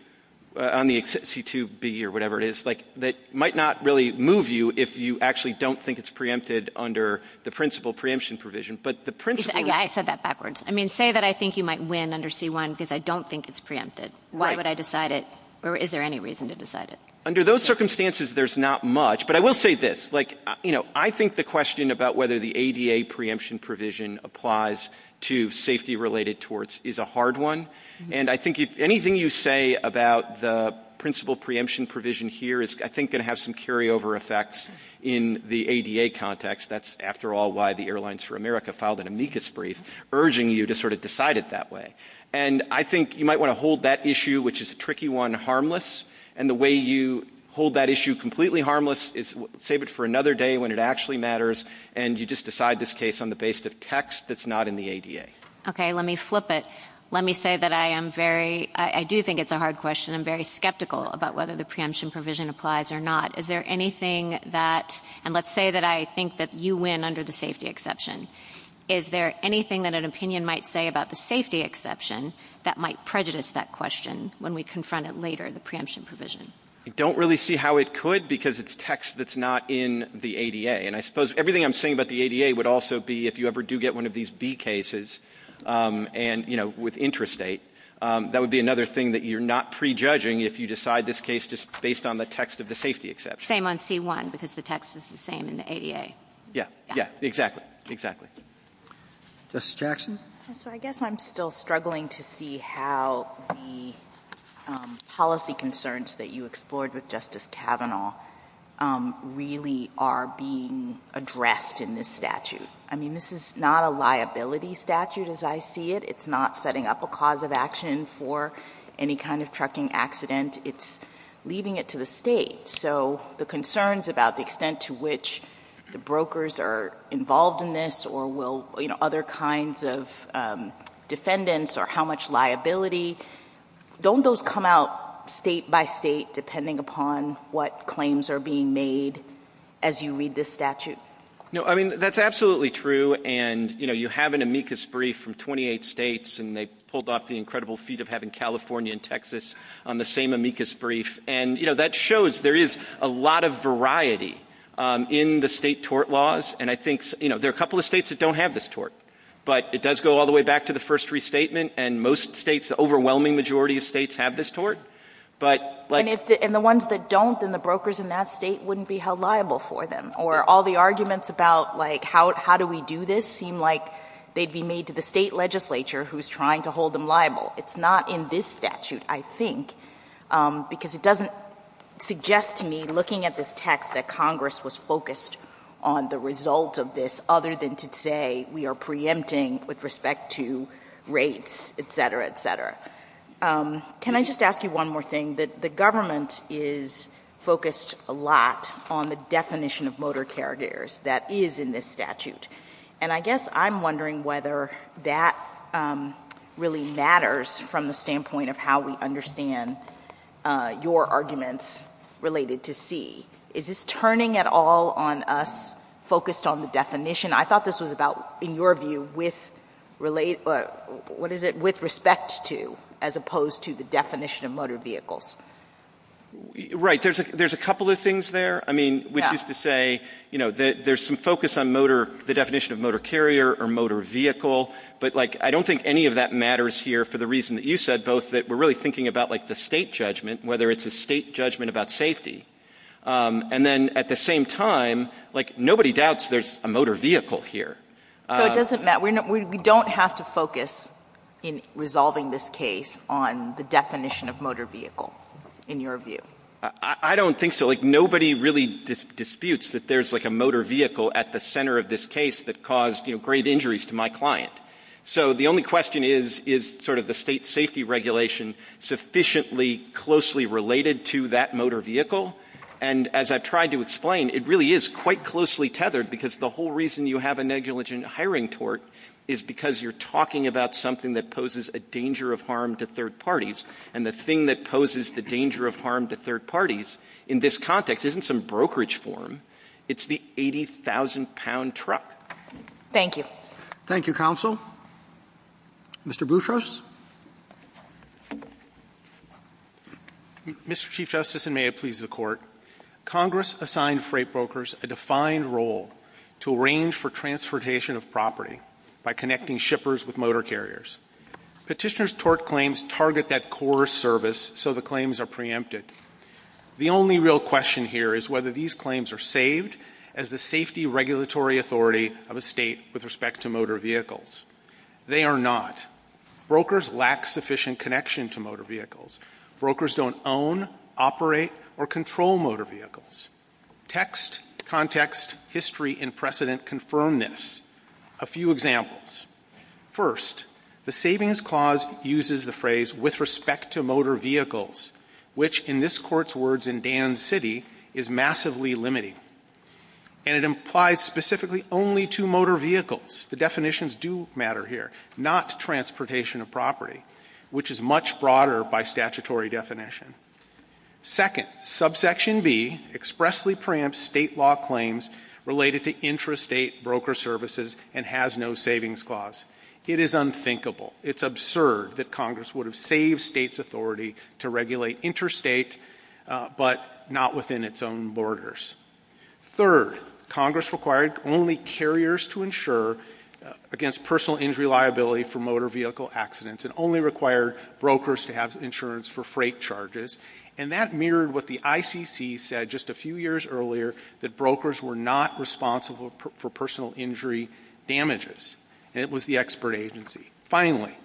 on the C-2B or whatever it is, like that might not really move you if you actually don't think it's preempted under the principal preemption provision. But the principal... I said that backwards. I mean, say that I think you might win under C-1 because I don't think it's preempted. Why would I decide it? Or is there any reason to decide it? Under those circumstances, there's not much. But I will say this. Like, you know, I think the question about whether the ADA preemption provision applies to safety-related torts is a hard one. And I think anything you say about the principal preemption provision here is, I think, going to have some carryover effects in the ADA context. That's, after all, why the Airlines for America filed an amicus brief urging you to sort of decide it that way. And I think you might want to hold that issue, which is a tricky one, harmless. And the way you hold that issue completely harmless is save it for another day when it actually matters, and you just decide this case on the basis of text that's not in the ADA. Okay. Let me flip it. Let me say that I am very... I do think it's a hard question. I'm very skeptical about whether the preemption provision applies or not. Is there anything that... and let's say that I think that you win under the safety exception. Is there anything that an opinion might say about the safety exception that might prejudice that question when we confront it later, the preemption provision? I don't really see how it could because it's text that's not in the ADA. And I suppose everything I'm saying about the ADA would also be if you ever do get one of these B cases and, you know, with intrastate, that would be another thing that you're not prejudging if you decide this case just based on the text of the safety exception. Same on C-1 because the text is the same in the ADA. Yeah. Yeah, exactly. Exactly. Justice Jackson? So I guess I'm still struggling to see how the policy concerns that you explored with Justice Kavanaugh really are being addressed in this statute. I mean, this is not a liability statute as I see it. It's not setting up a cause of action for any kind of trucking accident. It's leaving it to the state. So the concerns about the extent to which the brokers are involved in this or will, you know, other kinds of defendants or how much liability, don't those come out state by state depending upon what claims are being made as you read this statute? No, I mean, that's absolutely true. And, you know, you have an amicus brief from 28 states, and they pulled off the incredible feat of having California and Texas on the same amicus brief. And, you know, that shows there is a lot of variety in the state tort laws. And I think, you know, there are a couple of states that don't have this tort. But it does go all the way back to the first restatement, and most states, the overwhelming majority of states have this tort. And the ones that don't, then the brokers in that state wouldn't be held liable for them. Or all the arguments about, like, how do we do this seem like they'd be made to the state legislature who's trying to hold them liable. It's not in this statute, I think, because it doesn't suggest to me, looking at this text, that Congress was focused on the result of this other than to say we are preempting with respect to race, et cetera, et cetera. Can I just ask you one more thing? The government is focused a lot on the definition of motor carriers that is in this statute. And I guess I'm wondering whether that really matters from the standpoint of how we understand your arguments related to C. Is this turning at all on us focused on the definition? I thought this was about, in your view, with respect to as opposed to the definition of motor vehicles. Right. There's a couple of things there. I mean, which is to say, you know, there's some focus on the definition of motor carrier or motor vehicle. But, like, I don't think any of that matters here for the reason that you said, both, that we're really thinking about, like, the state judgment, whether it's a state judgment about safety. And then at the same time, like, nobody doubts there's a motor vehicle here. So it doesn't matter. We don't have to focus in resolving this case on the definition of motor vehicle, in your view. I don't think so. Like, nobody really disputes that there's, like, a motor vehicle at the center of this case that caused, you know, great injuries to my client. So the only question is, is sort of the state safety regulation sufficiently closely related to that motor vehicle? And as I've tried to explain, it really is quite closely tethered, because the whole reason you have a negligent hiring tort is because you're talking about something that poses a danger of harm to third parties. And the thing that poses the danger of harm to third parties in this context isn't some brokerage form. It's the 80,000-pound truck. Thank you. Thank you, Counsel. Mr. Bouchos. Mr. Chief Justice, and may it please the Court, Congress assigned freight brokers a defined role to arrange for transportation of property by connecting shippers with motor carriers. Petitioner's tort claims target that core service, so the claims are preempted. The only real question here is whether these claims are saved as the safety regulatory authority of a state with respect to motor vehicles. They are not. Brokers lack sufficient connection to motor vehicles. Brokers don't own, operate, or control motor vehicles. Text, context, history, and precedent confirm this. A few examples. First, the Savings Clause uses the phrase, with respect to motor vehicles, which in this Court's words in Dan City, is massively limiting. And it implies specifically only to motor vehicles. The definitions do matter here, not transportation of property, which is much broader by statutory definition. Second, subsection B expressly preempts state law claims related to intrastate broker services and has no savings clause. It is unthinkable. It's absurd that Congress would have saved states' authority to regulate interstate, but not within its own borders. Third, Congress required only carriers to insure against personal injury liability for motor vehicle accidents and only required brokers to have insurance for freight charges. And that mirrored what the ICC said just a few years earlier, that brokers were not responsible for personal injury damages. It was the expert agency. Finally,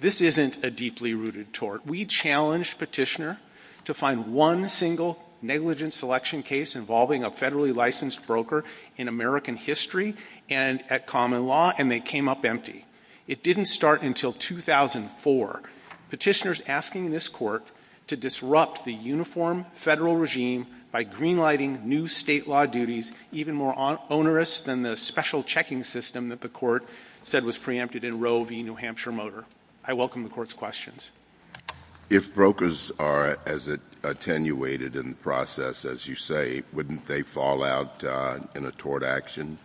this isn't a deeply rooted tort. We challenged Petitioner to find one single negligent selection case involving a federally licensed broker in American history and at common law, and they came up empty. It didn't start until 2004. Petitioner's asking this Court to disrupt the uniform federal regime by greenlighting new state law duties even more onerous than the special checking system that the Court said was preempted in Roe v. New Hampshire Motor. I welcome the Court's questions. If brokers are as attenuated in the process as you say, wouldn't they fall out in a tort action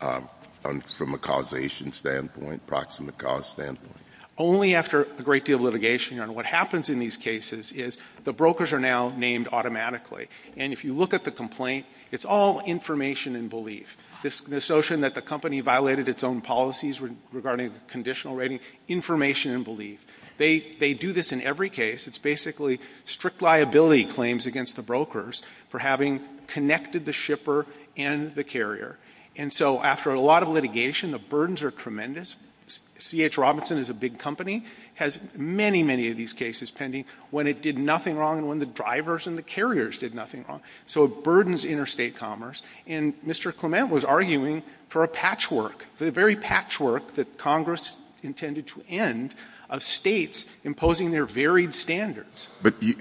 from a causation standpoint, proximate cause standpoint? Only after a great deal of litigation. And what happens in these cases is the brokers are now named automatically. And if you look at the complaint, it's all information and belief. This notion that the company violated its own policies regarding conditional rating, information and belief. They do this in every case. It's basically strict liability claims against the brokers for having connected the shipper and the carrier. And so after a lot of litigation, the burdens are tremendous. C.H. Robinson is a big company, has many, many of these cases pending when it did nothing wrong and when the drivers and the carriers did nothing wrong. So it burdens interstate commerce. And Mr. Clement was arguing for a patchwork, the very patchwork that Congress intended to end of states imposing their varied standards. But you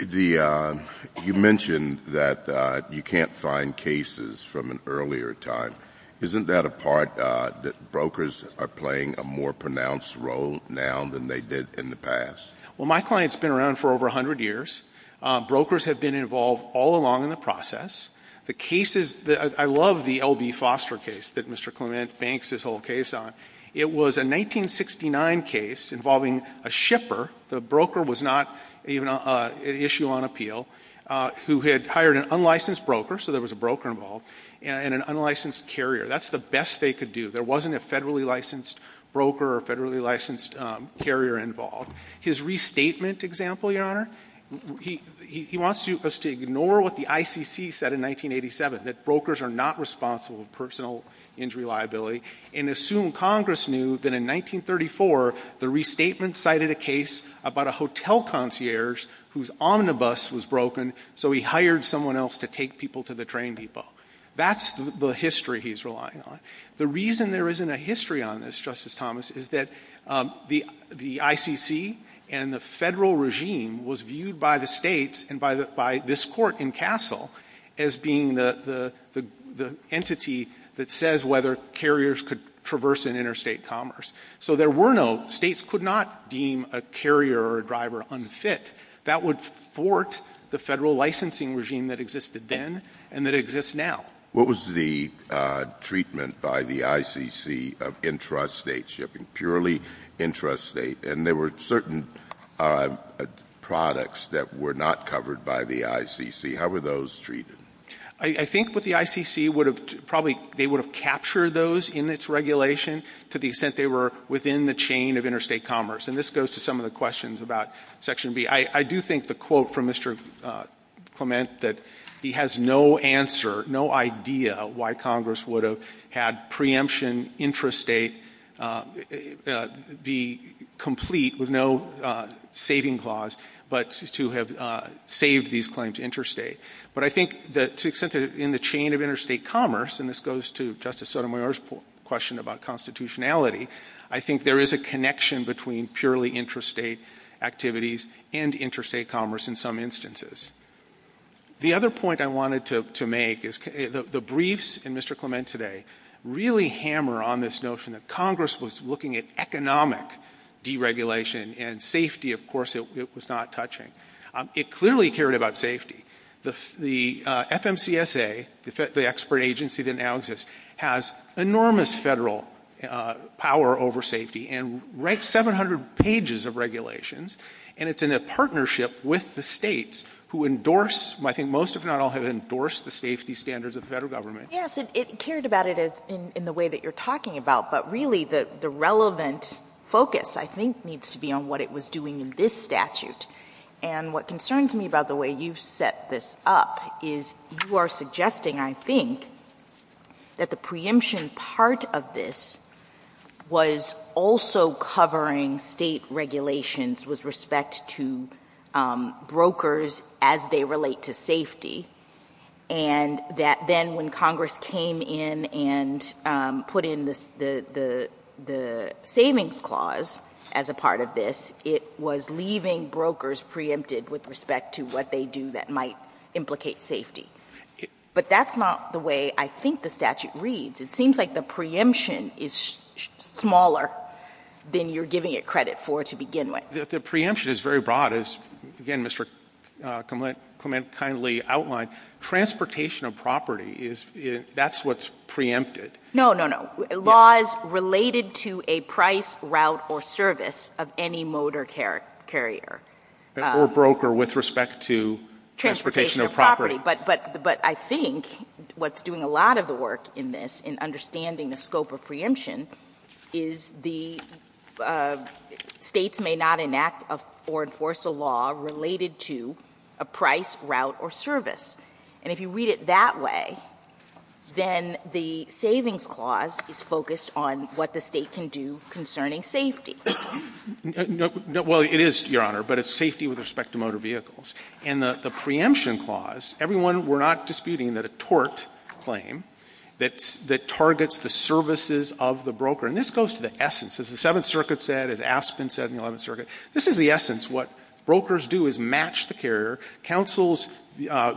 mentioned that you can't find cases from an earlier time. Isn't that a part that brokers are playing a more pronounced role now than they did in the past? Well, my client's been around for over 100 years. Brokers have been involved all along in the process. I love the L.B. Foster case that Mr. Clement banks his whole case on. It was a 1969 case involving a shipper. The broker was not an issue on appeal, who had hired an unlicensed broker, so there was a broker involved, and an unlicensed carrier. That's the best they could do. There wasn't a federally licensed broker or federally licensed carrier involved. His restatement example, Your Honor, he wants us to ignore what the ICC said in 1987, that brokers are not responsible for personal injury liability, and assume Congress knew that in 1934 the restatement cited a case about a hotel concierge whose omnibus was broken, so he hired someone else to take people to the train depot. That's the history he's relying on. The reason there isn't a history on this, Justice Thomas, is that the ICC and the federal regime was viewed by the states and by this court in Castle as being the entity that says whether carriers could traverse in interstate commerce. So there were no states could not deem a carrier or a driver unfit. That would thwart the federal licensing regime that existed then and that exists now. What was the treatment by the ICC of intrastate shipping, purely intrastate? And there were certain products that were not covered by the ICC. How were those treated? I think what the ICC would have probably captured those in its regulation to the extent they were within the chain of interstate commerce, and this goes to some of the questions about Section B. I do think the quote from Mr. Clement that he has no answer, no idea why Congress would have had preemption intrastate be complete with no saving clause, but to have saved these claims interstate. But I think that to the extent that in the chain of interstate commerce, and this goes to Justice Sotomayor's question about constitutionality, I think there is a connection between purely intrastate activities and interstate commerce in some instances. The other point I wanted to make is the briefs in Mr. Clement today really hammer on this notion that Congress was looking at economic deregulation and safety, of course, it was not touching. It clearly cared about safety. The FMCSA, the expert agency that now exists, has enormous federal power over safety and writes 700 pages of regulations and it's in a partnership with the states who endorse, I think most if not all have endorsed the safety standards of the federal government. Yes, it cared about it in the way that you're talking about, but really the relevant focus I think needs to be on what it was doing in this statute. And what concerns me about the way you've set this up is you are suggesting, I think, that the preemption part of this was also covering state regulations with respect to brokers as they relate to safety and that then when Congress came in and put in the savings clause as a part of this, it was leaving brokers preempted with respect to what they do that might implicate safety. But that's not the way I think the statute reads. It seems like the preemption is smaller than you're giving it credit for to begin with. The preemption is very broad as, again, Mr. Clement kindly outlined. Transportation of property, that's what's preempted. No, no, no. Laws related to a price, route, or service of any motor carrier. Or broker with respect to transportation of property. But I think what's doing a lot of the work in this in understanding the scope of preemption is the states may not enact or enforce a law related to a price, route, or service. And if you read it that way, then the savings clause is focused on what the state can do concerning safety. Well, it is, Your Honor, but it's safety with respect to motor vehicles. In the preemption clause, everyone, we're not disputing that a tort claim that targets the services of the broker. And this goes to the essence. As the Seventh Circuit said, as Aspen said in the Eleventh Circuit, this is the essence. What brokers do is match the carrier. Counsel's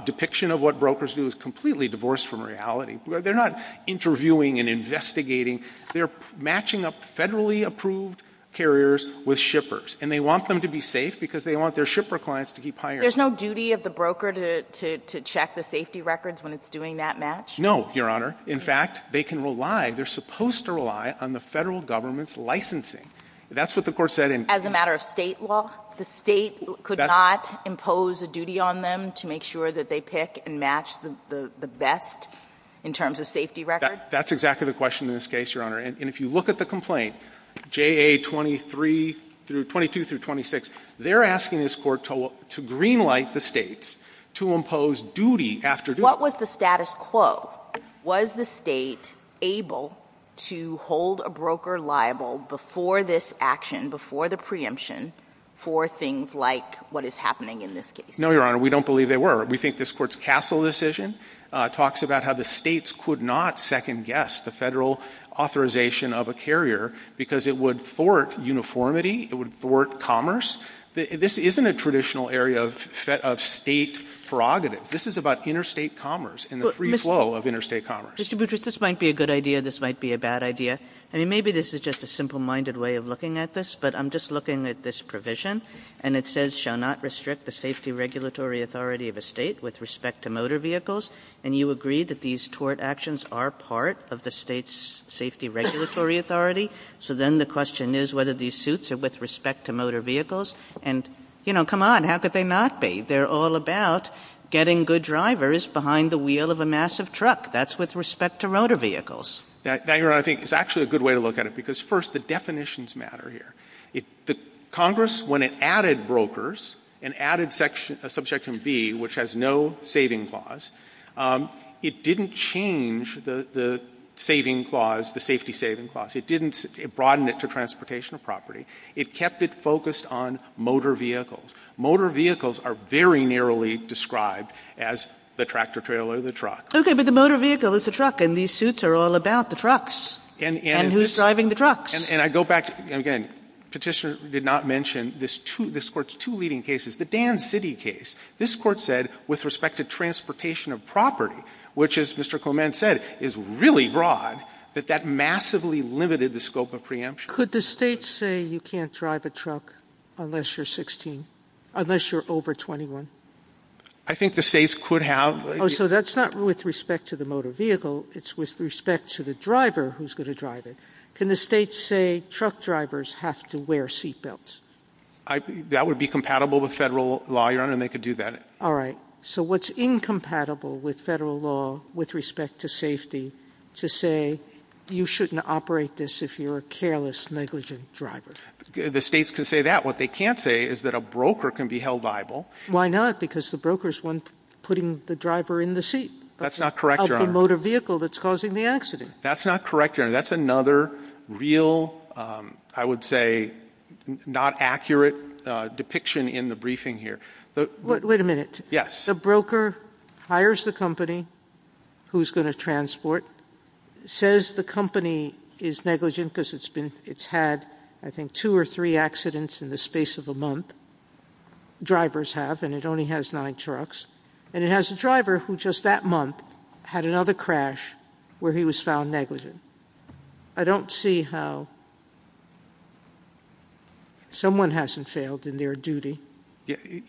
depiction of what brokers do is completely divorced from reality. They're not interviewing and investigating. They're matching up federally approved carriers with shippers. And they want them to be safe because they want their shipper clients to keep hiring. There's no duty of the broker to check the safety records when it's doing that match? No, Your Honor. In fact, they can rely, they're supposed to rely on the Federal Government's licensing. That's what the Court said in As a matter of state law, the state could not impose a duty on them to make sure that they pick and match the best in terms of safety records? That's exactly the question in this case, Your Honor. And if you look at the complaint, JA 23 through 22 through 26, they're asking this Court to green light the states to impose duty after duty. What was the status quo? Was the state able to hold a broker liable before this action, before the preemption, for things like what is happening in this case? No, Your Honor. We don't believe they were. We think this Court's Castle decision talks about how the states could not second guess the Federal authorization of a carrier because it would thwart uniformity, it would thwart commerce. This isn't a traditional area of state prerogative. This is about interstate commerce and the free flow of interstate commerce. Mr. Boutrous, this might be a good idea, this might be a bad idea. I mean, maybe this is just a simple-minded way of looking at this, but I'm just looking at this provision, and it says shall not restrict the safety regulatory authority of a state with respect to motor vehicles, and you agree that these tort actions are part of the state's safety regulatory authority, so then the question is whether these suits are with respect to motor vehicles, and, you know, come on, how could they not be? They're all about getting good drivers behind the wheel of a massive truck. That's with respect to motor vehicles. Now, Your Honor, I think it's actually a good way to look at it because, first, the definitions matter here. Congress, when it added brokers and added Subsection B, which has no saving clause, it didn't change the saving clause, the safety saving clause. It didn't broaden it to transportation property. It kept it focused on motor vehicles. Motor vehicles are very narrowly described as the tractor-trailer, the truck. Okay, but the motor vehicle is the truck, and these suits are all about the trucks. And who's driving the trucks? And I go back, again, Petitioner did not mention this Court's two leading cases. The Dan City case, this Court said with respect to transportation of property, which, as Mr. Coleman said, is really broad, that that massively limited the scope of preemption. Could the states say you can't drive a truck unless you're 16, unless you're over 21? I think the states could have. Oh, so that's not with respect to the motor vehicle. It's with respect to the driver who's going to drive it. Can the states say truck drivers have to wear seatbelts? That would be compatible with federal law, Your Honor, and they could do that. All right. So what's incompatible with federal law with respect to safety to say you shouldn't operate this if you're a careless negligent driver? The states could say that. What they can't say is that a broker can be held liable. Why not? Because the broker is the one putting the driver in the seat of the motor vehicle that's causing the accident. That's not correct, Your Honor. That's another real, I would say, not accurate depiction in the briefing here. Wait a minute. Yes. The broker hires the company who's going to transport, says the company is negligent because it's had, I think, two or three accidents in the space of a month. Drivers have, and it only has nine trucks. And it has a driver who just that month had another crash where he was found negligent. I don't see how someone hasn't failed in their duty.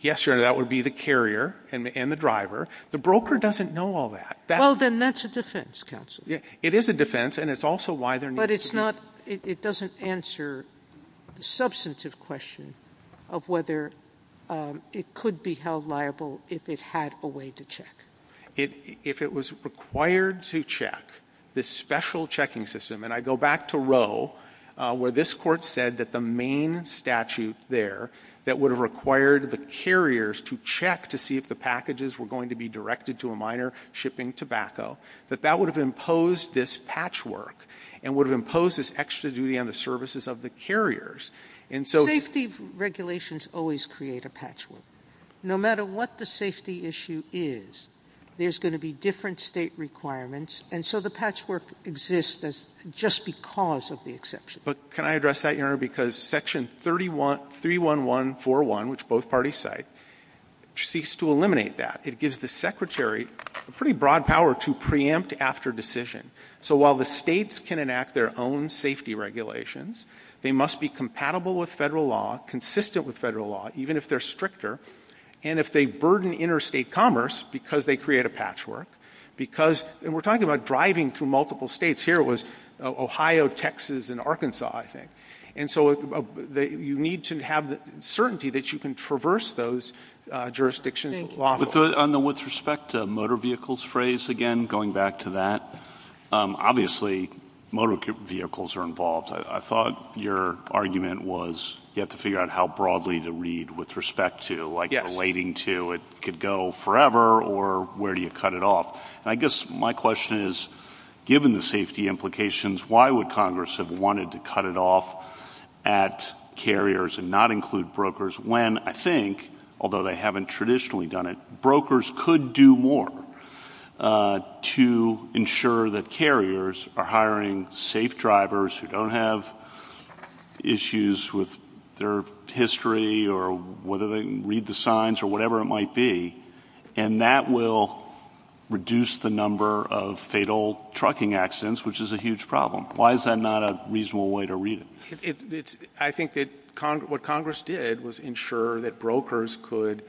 Yes, Your Honor, that would be the carrier and the driver. The broker doesn't know all that. Well, then that's a defense, counsel. It is a defense, and it's also why they're negligent. But it's not, it doesn't answer the substantive question of whether it could be held liable if it had a way to check. If it was required to check this special checking system, and I go back to Roe where this court said that the main statute there that would have required the carriers to check to see if the packages were going to be directed to a minor shipping tobacco, that that would have imposed this patchwork and would have imposed this extra duty on the services of the carriers. Safety regulations always create a patchwork. No matter what the safety issue is, there's going to be different state requirements, and so the patchwork exists just because of the exception. But can I address that, Your Honor, because Section 31141, which both parties cite, seeks to eliminate that. It gives the secretary pretty broad power to preempt after decision. So while the states can enact their own safety regulations, they must be compatible with federal law, consistent with federal law, even if they're stricter, and if they burden interstate commerce because they create a patchwork. Because, and we're talking about driving through multiple states. Here it was Ohio, Texas, and Arkansas, I think. And so you need to have the certainty that you can traverse those jurisdictions. On the with respect to motor vehicles phrase again, going back to that, obviously motor vehicles are involved. I thought your argument was you have to figure out how broadly to read with respect to, like relating to, it could go forever or where do you cut it off. And I guess my question is, given the safety implications, why would Congress have wanted to cut it off at carriers and not include brokers when I think, although they haven't traditionally done it, brokers could do more to ensure that carriers are hiring safe drivers who don't have issues with their history or whether they can read the signs or whatever it might be. And that will reduce the number of fatal trucking accidents, which is a huge problem. Why is that not a reasonable way to read it? I think that what Congress did was ensure that brokers could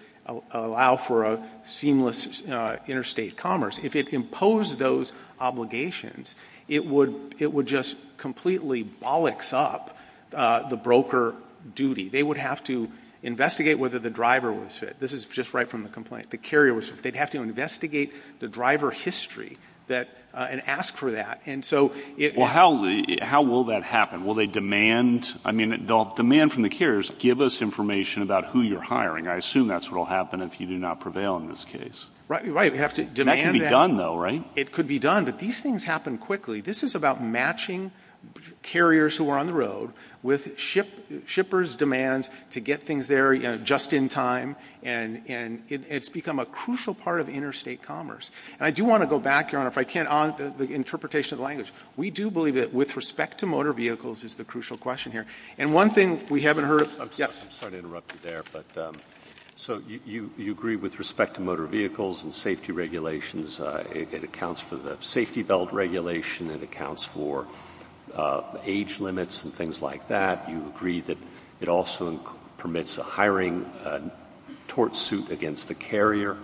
allow for a seamless interstate commerce. If it imposed those obligations, it would just completely bollocks up the broker duty. They would have to investigate whether the driver was fit. This is just right from the complaint. The carrier was fit. They'd have to investigate the driver history and ask for that. Well, how will that happen? Will they demand from the carriers, give us information about who you're hiring? I assume that's what will happen if you do not prevail in this case. Right. That could be done, though, right? It could be done. But these things happen quickly. This is about matching carriers who are on the road with shippers' demands to get things there just in time. And it's become a crucial part of interstate commerce. And I do want to go back, Your Honor, if I can, on the interpretation of the language. We do believe that with respect to motor vehicles is the crucial question here. And one thing we haven't heard – I'm sorry to interrupt you there. So you agree with respect to motor vehicles and safety regulations. It accounts for the safety belt regulation. It accounts for age limits and things like that. You agree that it also permits a hiring tort suit against the carrier.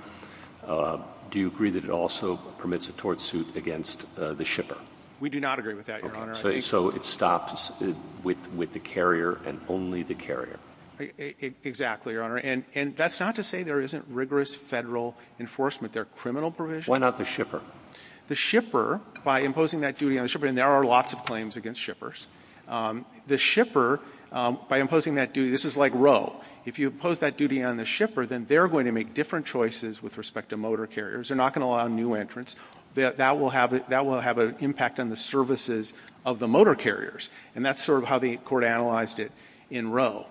Do you agree that it also permits a tort suit against the shipper? We do not agree with that, Your Honor. So it stops with the carrier and only the carrier. Exactly, Your Honor. And that's not to say there isn't rigorous federal enforcement. There are criminal provisions. Why not the shipper? The shipper, by imposing that duty on the shipper – and there are lots of claims against shippers. The shipper, by imposing that duty – this is like Roe. If you impose that duty on the shipper, then they're going to make different choices with respect to motor carriers. They're not going to allow new entrants. That will have an impact on the services of the motor carriers. And that's sort of how the Court analyzed it in Roe.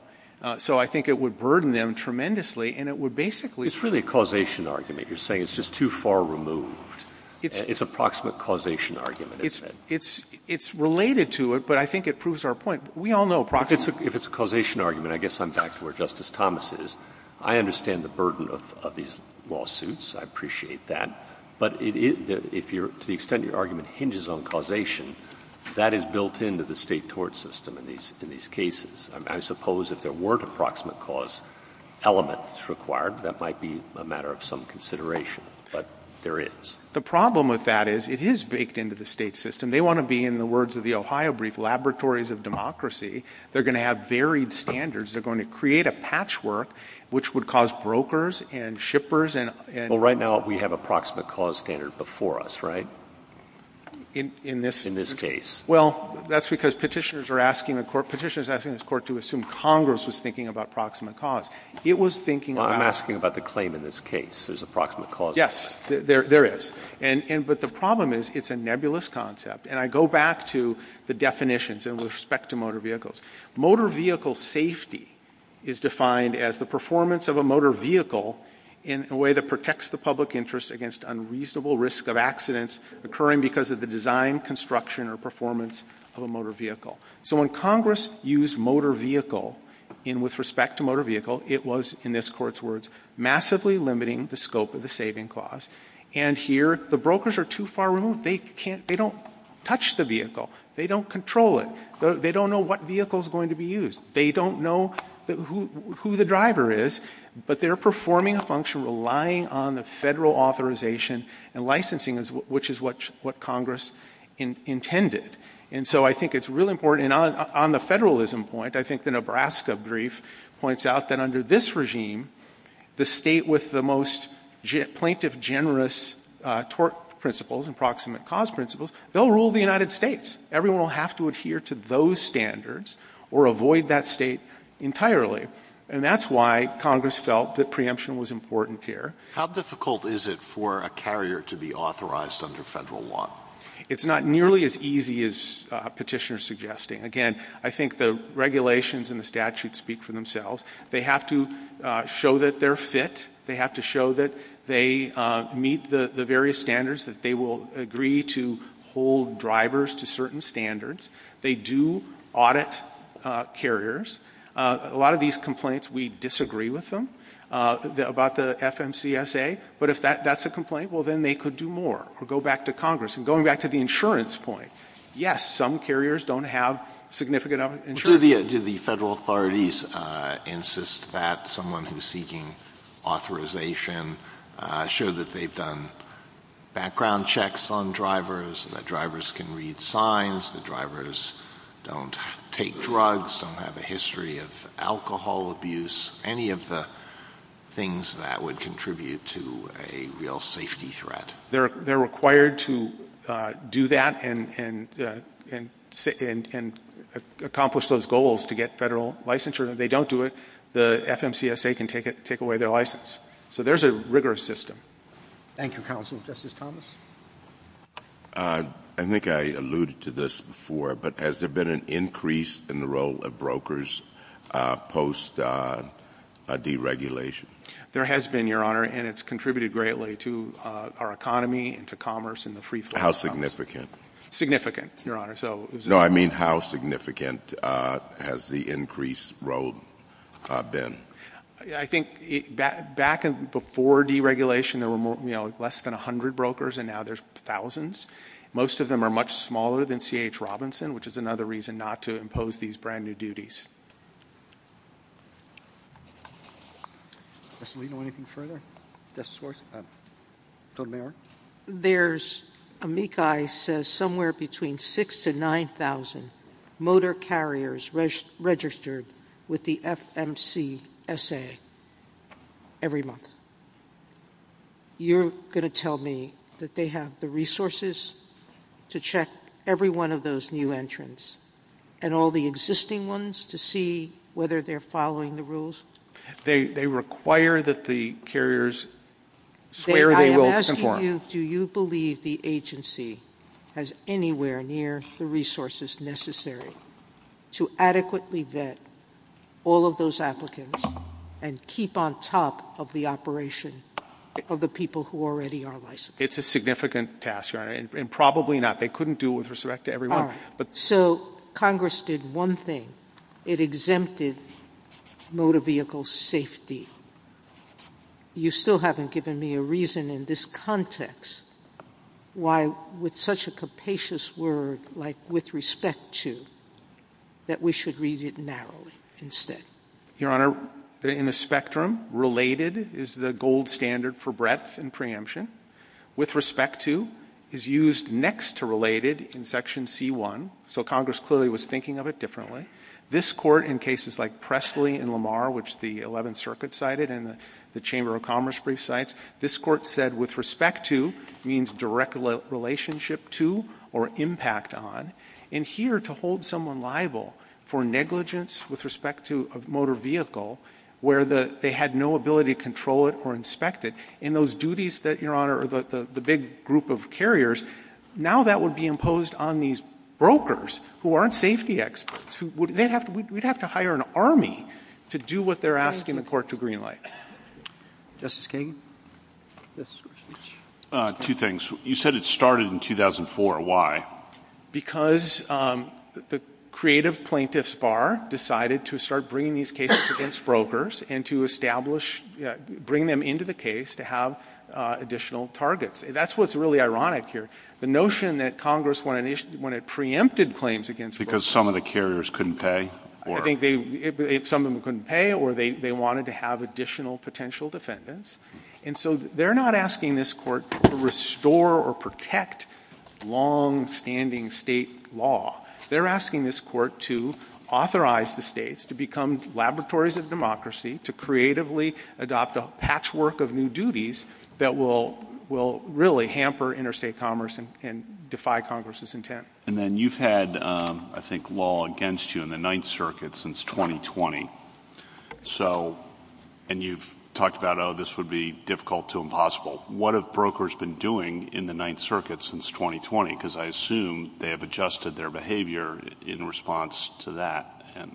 So I think it would burden them tremendously, and it would basically – It's really a causation argument. You're saying it's just too far removed. It's a proximate causation argument. It's related to it, but I think it proves our point. We all know – If it's a causation argument, I guess I'm back to where Justice Thomas is. I understand the burden of these lawsuits. I appreciate that. But to the extent your argument hinges on causation, that is built into the state tort system in these cases. I suppose if there weren't a proximate cause element that's required, that might be a matter of some consideration. But there is. The problem with that is it is baked into the state system. And they want to be, in the words of the Ohio brief, laboratories of democracy. They're going to have varied standards. They're going to create a patchwork which would cause brokers and shippers and – Well, right now we have a proximate cause standard before us, right? In this case. Well, that's because petitioners are asking the Court – Petitioners are asking this Court to assume Congress is thinking about proximate cause. It was thinking about – I'm asking about the claim in this case, is a proximate cause – Yes, there is. But the problem is it's a nebulous concept. And I go back to the definitions in respect to motor vehicles. Motor vehicle safety is defined as the performance of a motor vehicle in a way that protects the public interest against unreasonable risk of accidents occurring because of the design, construction, or performance of a motor vehicle. So when Congress used motor vehicle with respect to motor vehicle, it was, in this Court's words, massively limiting the scope of the saving clause. And here, the brokers are too far removed. They can't – they don't touch the vehicle. They don't control it. They don't know what vehicle is going to be used. They don't know who the driver is. But they're performing a function relying on the federal authorization and licensing, which is what Congress intended. And so I think it's really important. And on the federalism point, I think the Nebraska brief points out that under this regime, the state with the most plaintiff-generous tort principles and proximate cause principles, they'll rule the United States. Everyone will have to adhere to those standards or avoid that state entirely. And that's why Congress felt that preemption was important here. How difficult is it for a carrier to be authorized under Federal law? It's not nearly as easy as Petitioner is suggesting. Again, I think the regulations and the statutes speak for themselves. They have to show that they're fit. They have to show that they meet the various standards, that they will agree to hold drivers to certain standards. They do audit carriers. A lot of these complaints, we disagree with them about the FMCSA. But if that's a complaint, well, then they could do more or go back to Congress. And going back to the insurance point, yes, some carriers don't have significant insurance. Do the Federal authorities insist that someone who's seeking authorization show that they've done background checks on drivers, that drivers can read signs, that drivers don't take drugs, don't have a history of alcohol abuse, any of the things that would contribute to a real safety threat? They're required to do that and accomplish those goals to get Federal licensure. If they don't do it, the FMCSA can take away their license. So there's a rigorous system. Thank you, Counsel. Justice Thomas? I think I alluded to this before, but has there been an increase in the role of brokers post-deregulation? There has been, Your Honor, and it's contributed greatly to our economy and to commerce. How significant? Significant, Your Honor. No, I mean how significant has the increased role been? I think back before deregulation, there were less than 100 brokers, and now there's thousands. Most of them are much smaller than C.H. Robinson, which is another reason not to impose these brand-new duties. Ms. Leano, anything further? Justice Schwartz? From there? There's, amici says somewhere between 6,000 to 9,000 motor carriers registered with the FMCSA every month. You're going to tell me that they have the resources to check every one of those new entrants and all the existing ones to see whether they're following the rules? They require that the carriers swear they will perform. I am asking you, do you believe the agency has anywhere near the resources necessary to adequately vet all of those applicants and keep on top of the operation of the people who already are licensed? It's a significant task, Your Honor, and probably not. They couldn't do it with respect to everyone. So Congress did one thing. It exempted motor vehicle safety. You still haven't given me a reason in this context why, with such a capacious word like with respect to, that we should read it narrowly instead. Your Honor, in the spectrum, related is the gold standard for breadth and preemption. With respect to is used next to related in Section C.1. So Congress clearly was thinking of it differently. This Court, in cases like Presley and Lamar, which the 11th Circuit cited and the Chamber of Commerce brief cites, this Court said with respect to means direct relationship to or impact on. And here, to hold someone liable for negligence with respect to a motor vehicle where they had no ability to control it or inspect it, in those duties that, Your Honor, the big group of carriers, now that would be imposed on these brokers who aren't safety experts. We'd have to hire an army to do what they're asking the Court to greenlight. Justice Kagan? Two things. You said it started in 2004. Why? Because the creative plaintiff's bar decided to start bringing these cases against brokers and to establish, bring them into the case to have additional targets. That's what's really ironic here, the notion that Congress, when it preempted claims against brokers. Because some of the carriers couldn't pay? I think some of them couldn't pay or they wanted to have additional potential defendants. And so they're not asking this Court to restore or protect longstanding state law. They're asking this Court to authorize the states to become laboratories of democracy, to creatively adopt a patchwork of new duties that will really hamper interstate commerce and defy Congress's intent. And then you've had, I think, law against you in the Ninth Circuit since 2020. And you've talked about, oh, this would be difficult to impossible. What have brokers been doing in the Ninth Circuit since 2020? Because I assume they have adjusted their behavior in response to that and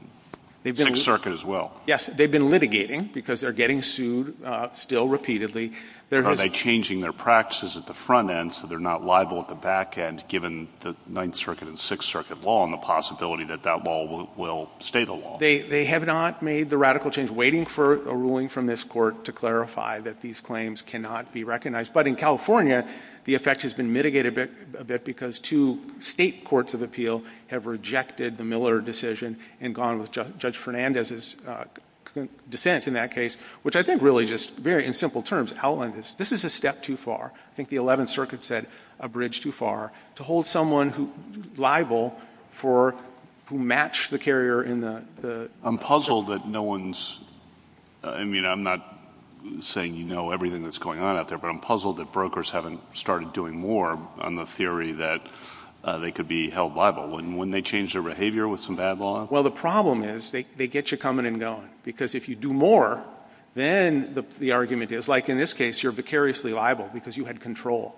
Sixth Circuit as well. Yes, they've been litigating because they're getting sued still repeatedly. Are they changing their practices at the front end so they're not liable at the back end, given the Ninth Circuit and Sixth Circuit law and the possibility that that law will stay the law? They have not made the radical change. Waiting for a ruling from this Court to clarify that these claims cannot be recognized. But in California, the effect has been mitigated a bit because two state courts of appeal have rejected the Miller decision and gone with Judge Fernandez's dissent in that case, which I think really just very in simple terms outlined this. This is a step too far. I think the Eleventh Circuit said a bridge too far. To hold someone liable for who matched the carrier in the – I'm puzzled that no one's – I mean, I'm not saying you know everything that's going on out there, but I'm puzzled that brokers haven't started doing more on the theory that they could be held liable. Wouldn't they change their behavior with some bad law? Well, the problem is they get you coming and going, because if you do more, then the argument is – like in this case, you're precariously liable because you had control.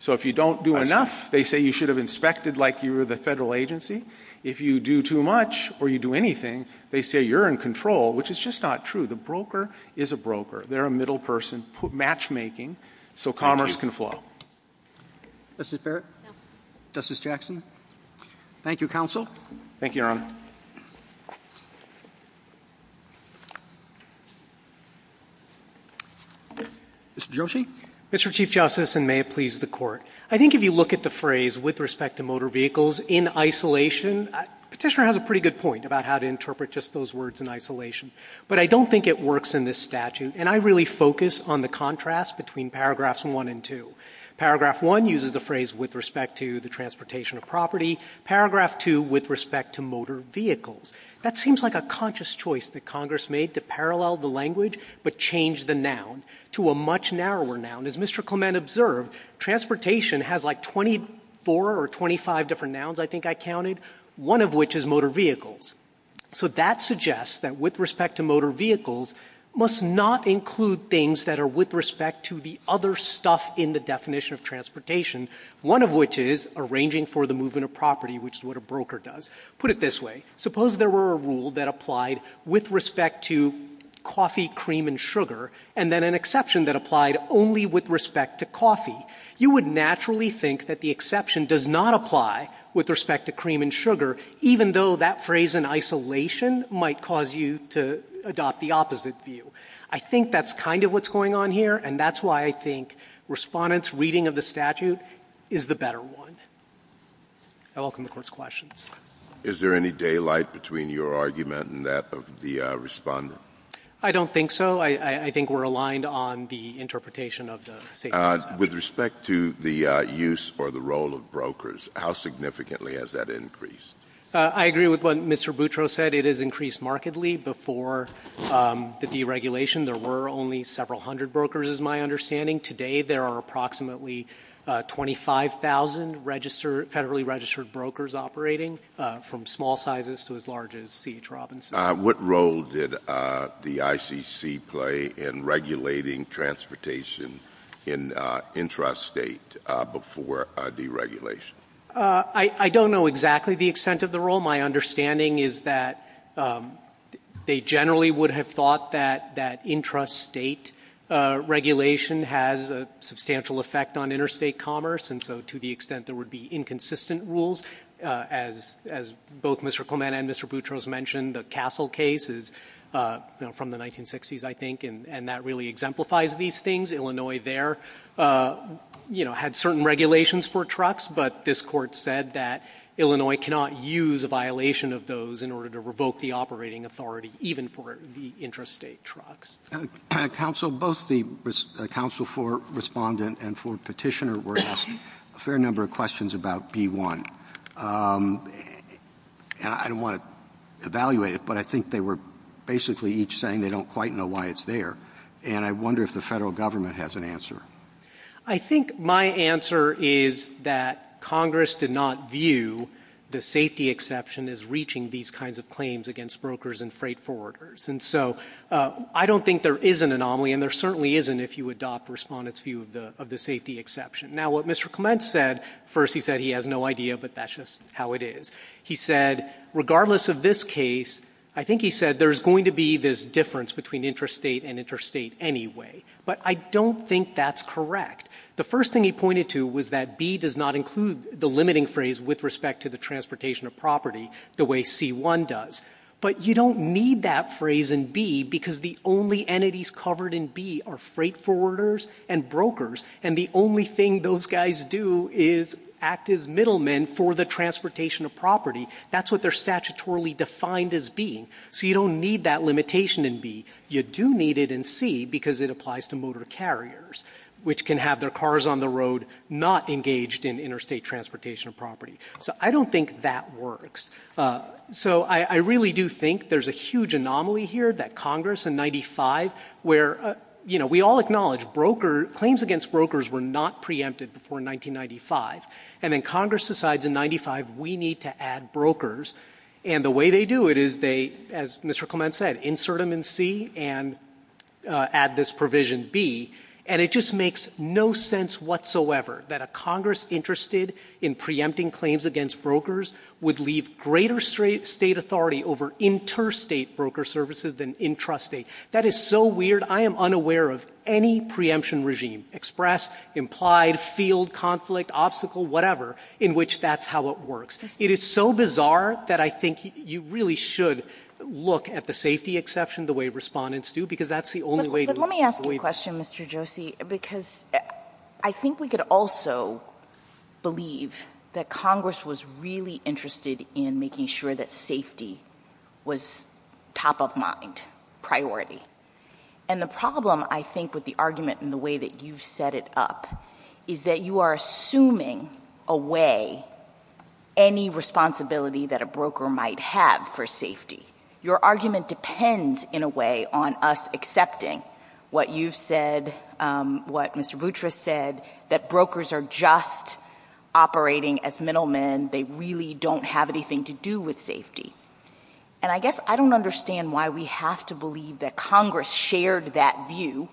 So if you don't do enough, they say you should have inspected like you were the federal agency. If you do too much or you do anything, they say you're in control, which is just not true. The broker is a broker. They're a middle person, matchmaking, so commerce can flow. Justice Barrett? Justice Jackson? Thank you, Counsel. Thank you, Your Honor. Mr. Joshi? Mr. Chief Justice, and may it please the Court, I think if you look at the phrase with respect to motor vehicles in isolation, Petitioner has a pretty good point about how to interpret just those words in isolation, but I don't think it works in this statute, and I really focus on the contrast between paragraphs one and two. Paragraph one uses the phrase with respect to the transportation of property. Paragraph two, with respect to motor vehicles. That seems like a conscious choice that Congress made to parallel the language but change the noun to a much narrower noun. As Mr. Clement observed, transportation has like 24 or 25 different nouns, I think I counted, one of which is motor vehicles. So that suggests that with respect to motor vehicles, must not include things that are with respect to the other stuff in the definition of transportation, one of which is arranging for the movement of property, which is what a broker does. Put it this way. Suppose there were a rule that applied with respect to coffee, cream, and sugar, and then an exception that applied only with respect to coffee. You would naturally think that the exception does not apply with respect to cream and sugar, even though that phrase in isolation might cause you to adopt the opposite view. I think that's kind of what's going on here, and that's why I think Respondent's reading of the statute is the better one. I welcome the Court's questions. Is there any daylight between your argument and that of the Respondent? I don't think so. I think we're aligned on the interpretation of the state statute. With respect to the use or the role of brokers, how significantly has that increased? I agree with what Mr. Boutro said. It has increased markedly. Before the deregulation, there were only several hundred brokers, is my understanding. Today there are approximately 25,000 federally registered brokers operating, from small sizes to as large as C.H. Robinson. What role did the ICC play in regulating transportation in intrastate before deregulation? I don't know exactly the extent of the role. My understanding is that they generally would have thought that intrastate regulation has a substantial effect on interstate commerce, and so to the extent there would be inconsistent rules, as both Mr. Clement and Mr. Boutro mentioned, the Castle case is from the 1960s, I think, and that really exemplifies these things. Illinois there had certain regulations for trucks, but this Court said that Illinois cannot use a violation of those in order to revoke the operating authority, even for the intrastate trucks. Counsel, both the counsel for Respondent and for Petitioner were asked a fair number of questions about B-1. I don't want to evaluate it, but I think they were basically each saying they don't quite know why it's there, and I wonder if the federal government has an answer. I think my answer is that Congress did not view the safety exception as reaching these kinds of claims against brokers and freight forwarders, and so I don't think there is an anomaly, and there certainly isn't if you adopt Respondent's view of the safety exception. Now, what Mr. Clement said, first he said he has no idea, but that's just how it is. He said, regardless of this case, I think he said there's going to be this difference between intrastate and interstate anyway, but I don't think that's correct. The first thing he pointed to was that B does not include the limiting phrase with respect to the transportation of property the way C-1 does, but you don't need that phrase in B because the only entities covered in B are freight forwarders and brokers, and the only thing those guys do is act as middlemen for the transportation of property. That's what they're statutorily defined as being. So you don't need that limitation in B. You do need it in C because it applies to motor carriers, which can have their cars on the road not engaged in interstate transportation of property. So I don't think that works. So I really do think there's a huge anomaly here that Congress in 95, where, you know, we all acknowledge claims against brokers were not preempted before 1995, and then Congress decides in 95 we need to add brokers, and the way they do it is they, as Mr. Clement said, insert them in C and add this provision B, and it just makes no sense whatsoever that a Congress interested in preempting claims against brokers would leave greater state authority over interstate broker services than intrastate. That is so weird. I am unaware of any preemption regime, express, implied, field, conflict, obstacle, whatever, in which that's how it works. It is so bizarre that I think you really should look at the safety exception the way respondents do because that's the only way to do it. Let me ask you a question, Mr. Josie, because I think we could also believe that Congress was really interested in making sure that safety was top of mind, top priority, and the problem, I think, with the argument and the way that you set it up is that you are assuming away any responsibility that a broker might have for safety. Your argument depends, in a way, on us accepting what you said, what Mr. Boutrous said, that brokers are just operating as middlemen. They really don't have anything to do with safety, and I guess I don't understand why we have to believe that Congress shared that view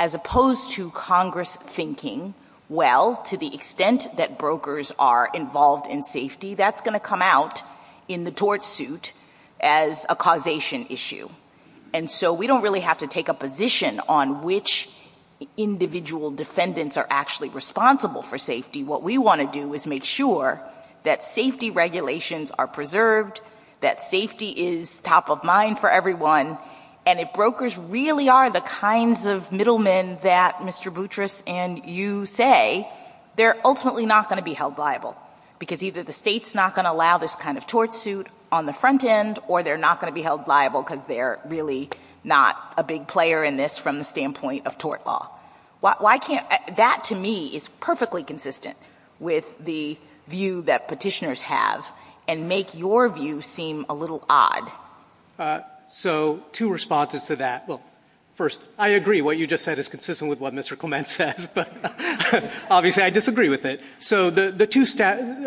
as opposed to Congress thinking, well, to the extent that brokers are involved in safety, that's going to come out in the tort suit as a causation issue, and so we don't really have to take a position on which individual defendants are actually responsible for safety. What we want to do is make sure that safety regulations are preserved, that safety is top of mind for everyone, and if brokers really are the kinds of middlemen that Mr. Boutrous and you say, they're ultimately not going to be held liable because either the state's not going to allow this kind of tort suit on the front end or they're not going to be held liable because they're really not a big player in this from the standpoint of tort law. Why can't – that, to me, is perfectly consistent with the view that petitioners have and make your view seem a little odd. So two responses to that. Well, first, I agree what you just said is consistent with what Mr. Clement said, but obviously I disagree with it. So the two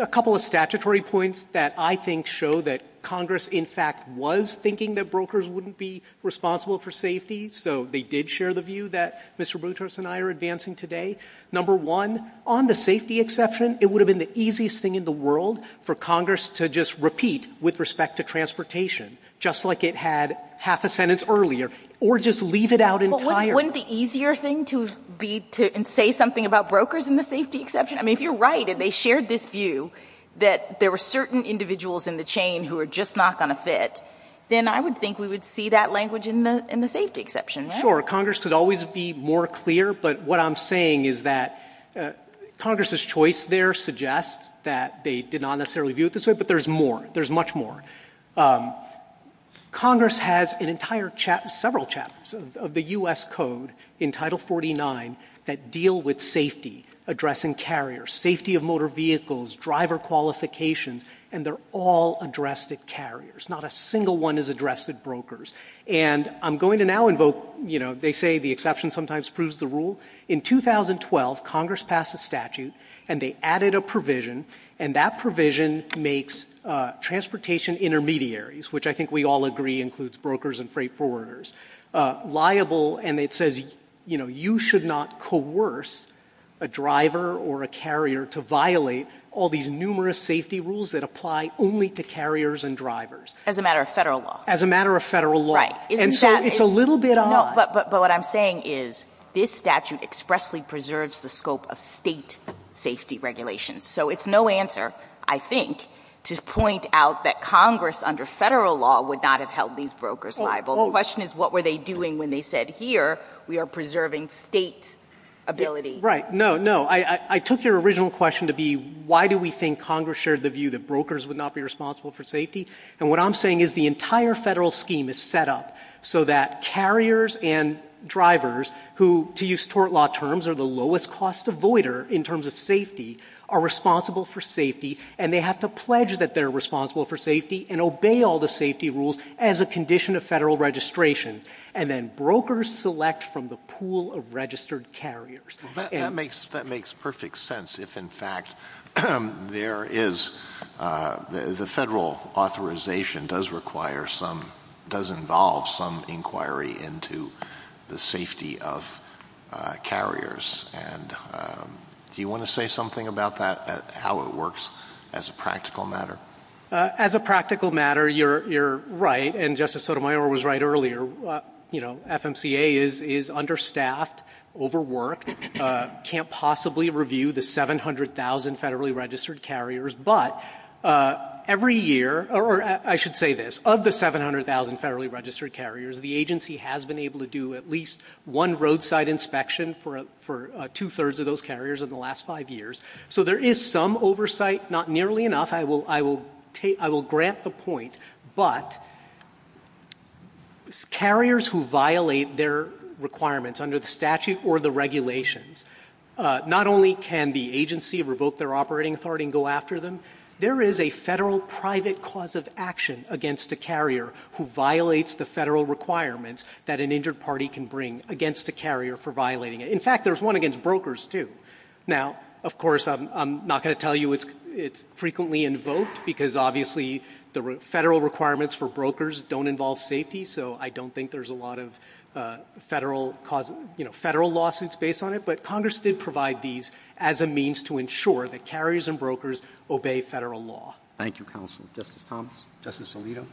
– a couple of statutory points that I think show that Congress, in fact, was thinking that brokers wouldn't be responsible for safety, so they did share the view that Mr. Boutrous and I are advancing today. Number one, on the safety exception, it would have been the easiest thing in the world for Congress to just repeat with respect to transportation, just like it had half a sentence earlier, or just leave it out entirely. Well, wouldn't the easier thing be to say something about brokers in the safety exception? I mean, if you're right and they shared this view that there were certain individuals in the chain who are just not going to fit, then I would think we would see that language in the safety exception, right? Sure. Congress could always be more clear, but what I'm saying is that Congress's choice there suggests that they did not necessarily view it this way, but there's more. There's much more. Congress has an entire – several chapters of the U.S. Code in Title 49 that deal with safety, addressing carriers, safety of motor vehicles, driver qualifications, and they're all addressed at carriers. Not a single one is addressed at brokers. And I'm going to now invoke – they say the exception sometimes proves the rule. In 2012, Congress passed a statute and they added a provision, and that provision makes transportation intermediaries, which I think we all agree includes brokers and freight forwarders, liable, and it says, you know, you should not coerce a driver or a carrier to violate all these numerous safety rules that apply only to carriers and drivers. As a matter of federal law. As a matter of federal law. And so it's a little bit odd. But what I'm saying is this statute expressly preserves the scope of state safety regulations. So it's no answer, I think, to point out that Congress, under federal law, would not have held these brokers liable. The question is, what were they doing when they said, here we are preserving state ability. Right. No, no. I took your original question to be, why do we think Congress shared the view that brokers would not be responsible for safety? And what I'm saying is the entire federal scheme is set up so that carriers and drivers who, to use tort law terms, are the lowest cost avoider in terms of safety, are responsible for safety, and they have to pledge that they're responsible for safety and obey all the safety rules as a condition of federal registration. And then brokers select from the pool of registered carriers. That makes perfect sense. If, in fact, there is, the federal authorization does require some, does involve some inquiry into the safety of carriers. And do you want to say something about that, how it works as a practical matter? As a practical matter, you're right. And Justice Sotomayor was right earlier. You know, FMCA is understaffed, overworked, can't possibly review the 700,000 federally registered carriers. But every year, or I should say this, of the 700,000 federally registered carriers, the agency has been able to do at least one roadside inspection for two-thirds of those carriers in the last five years. So there is some oversight, not nearly enough. I will grant the point. But carriers who violate their requirements under the statute or the regulations, not only can the agency revoke their operating authority and go after them, there is a federal private cause of action against the carrier who violates the federal requirements that an injured party can bring against the carrier for violating it. In fact, there's one against brokers, too. Now, of course, I'm not going to tell you it's frequently invoked because obviously the federal requirements for brokers don't involve safety, so I don't think there's a lot of federal lawsuits based on it. But Congress did provide these as a means to ensure that carriers and brokers obey federal law. Thank you, Counsel. Justice Thomas? Justice Alito?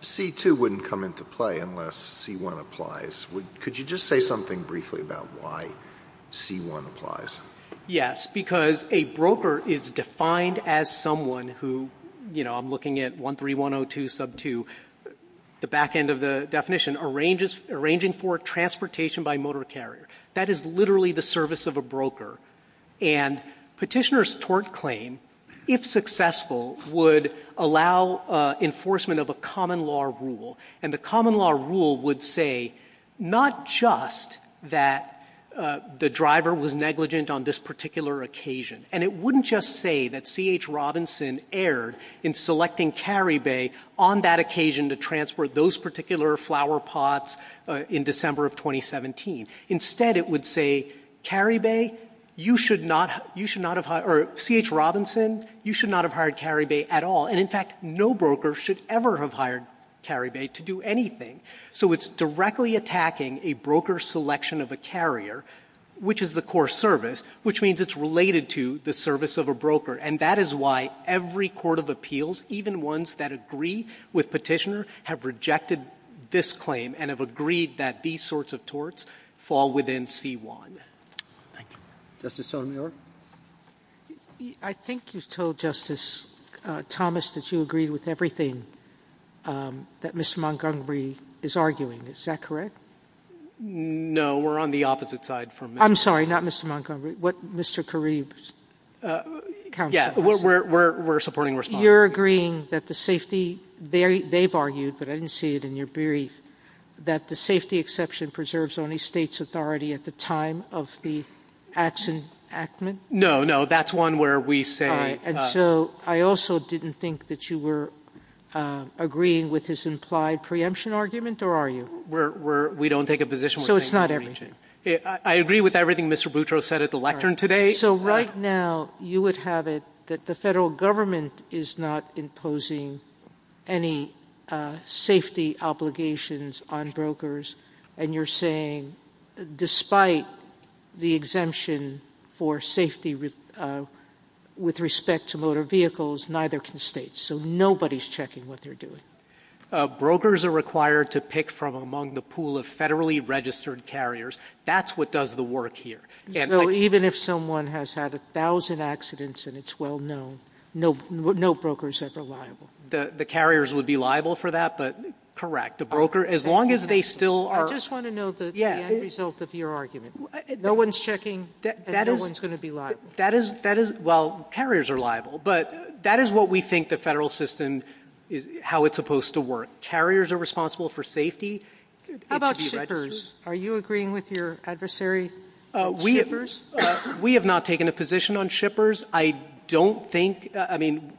C-2 wouldn't come into play unless C-1 applies. Could you just say something briefly about why C-1 applies? Yes, because a broker is defined as someone who, you know, I'm looking at 13102 sub 2, the back end of the definition, arranging for transportation by motor carrier. That is literally the service of a broker. And petitioner's tort claim, if successful, would allow enforcement of a common law rule. And the common law rule would say not just that the driver was negligent on this particular occasion, and it wouldn't just say that C.H. Robinson erred in selecting Carrie Bay on that occasion to transport those particular flower pots in December of 2017. Instead, it would say, Carrie Bay, you should not, you should not have, or C.H. Robinson, you should not have hired Carrie Bay at all. And in fact, no broker should ever have hired Carrie Bay to do anything. So it's directly attacking a broker's selection of a carrier, which is the core service, which means it's related to the service of a broker. And that is why every court of appeals, even ones that agree with petitioner, have rejected this claim and have agreed that these sorts of torts fall within C-1. Thank you. Justice Sotomayor? I think you've told Justice Thomas that you agree with everything that Mr. Montgomery is arguing. Is that correct? No, we're on the opposite side from him. I'm sorry, not Mr. Montgomery. What Mr. Carrie? Yeah, we're supporting response. You're agreeing that the safety, they've argued, but I didn't see it in your brief, that the safety exception preserves only state's authority at the time of the action. No, no, that's one where we say, and so I also didn't think that you were agreeing with his implied preemption argument or are you? We're, we're, we don't take a position. So it's not everything. I agree with everything Mr. Boutro said at the lectern today. So right now you would have it that the federal government is not imposing any safety obligations on brokers. And you're saying despite the exemption for safety, with respect to motor vehicles, neither can state. So nobody's checking what they're doing. Brokers are required to pick from among the pool of federally registered carriers. That's what does the work here. Even if someone has had a thousand accidents and it's well known, no brokers are liable. The carriers would be liable for that, but correct. The broker, as long as they still are. I just want to know the end result of your argument. No one's checking. No one's going to be liable. That is, that is, well, carriers are liable, but that is what we think the federal system is, how it's supposed to work. Carriers are responsible for safety. How about shippers? Are you agreeing with your adversary? We have not taken a position on shippers. I don't think, I mean,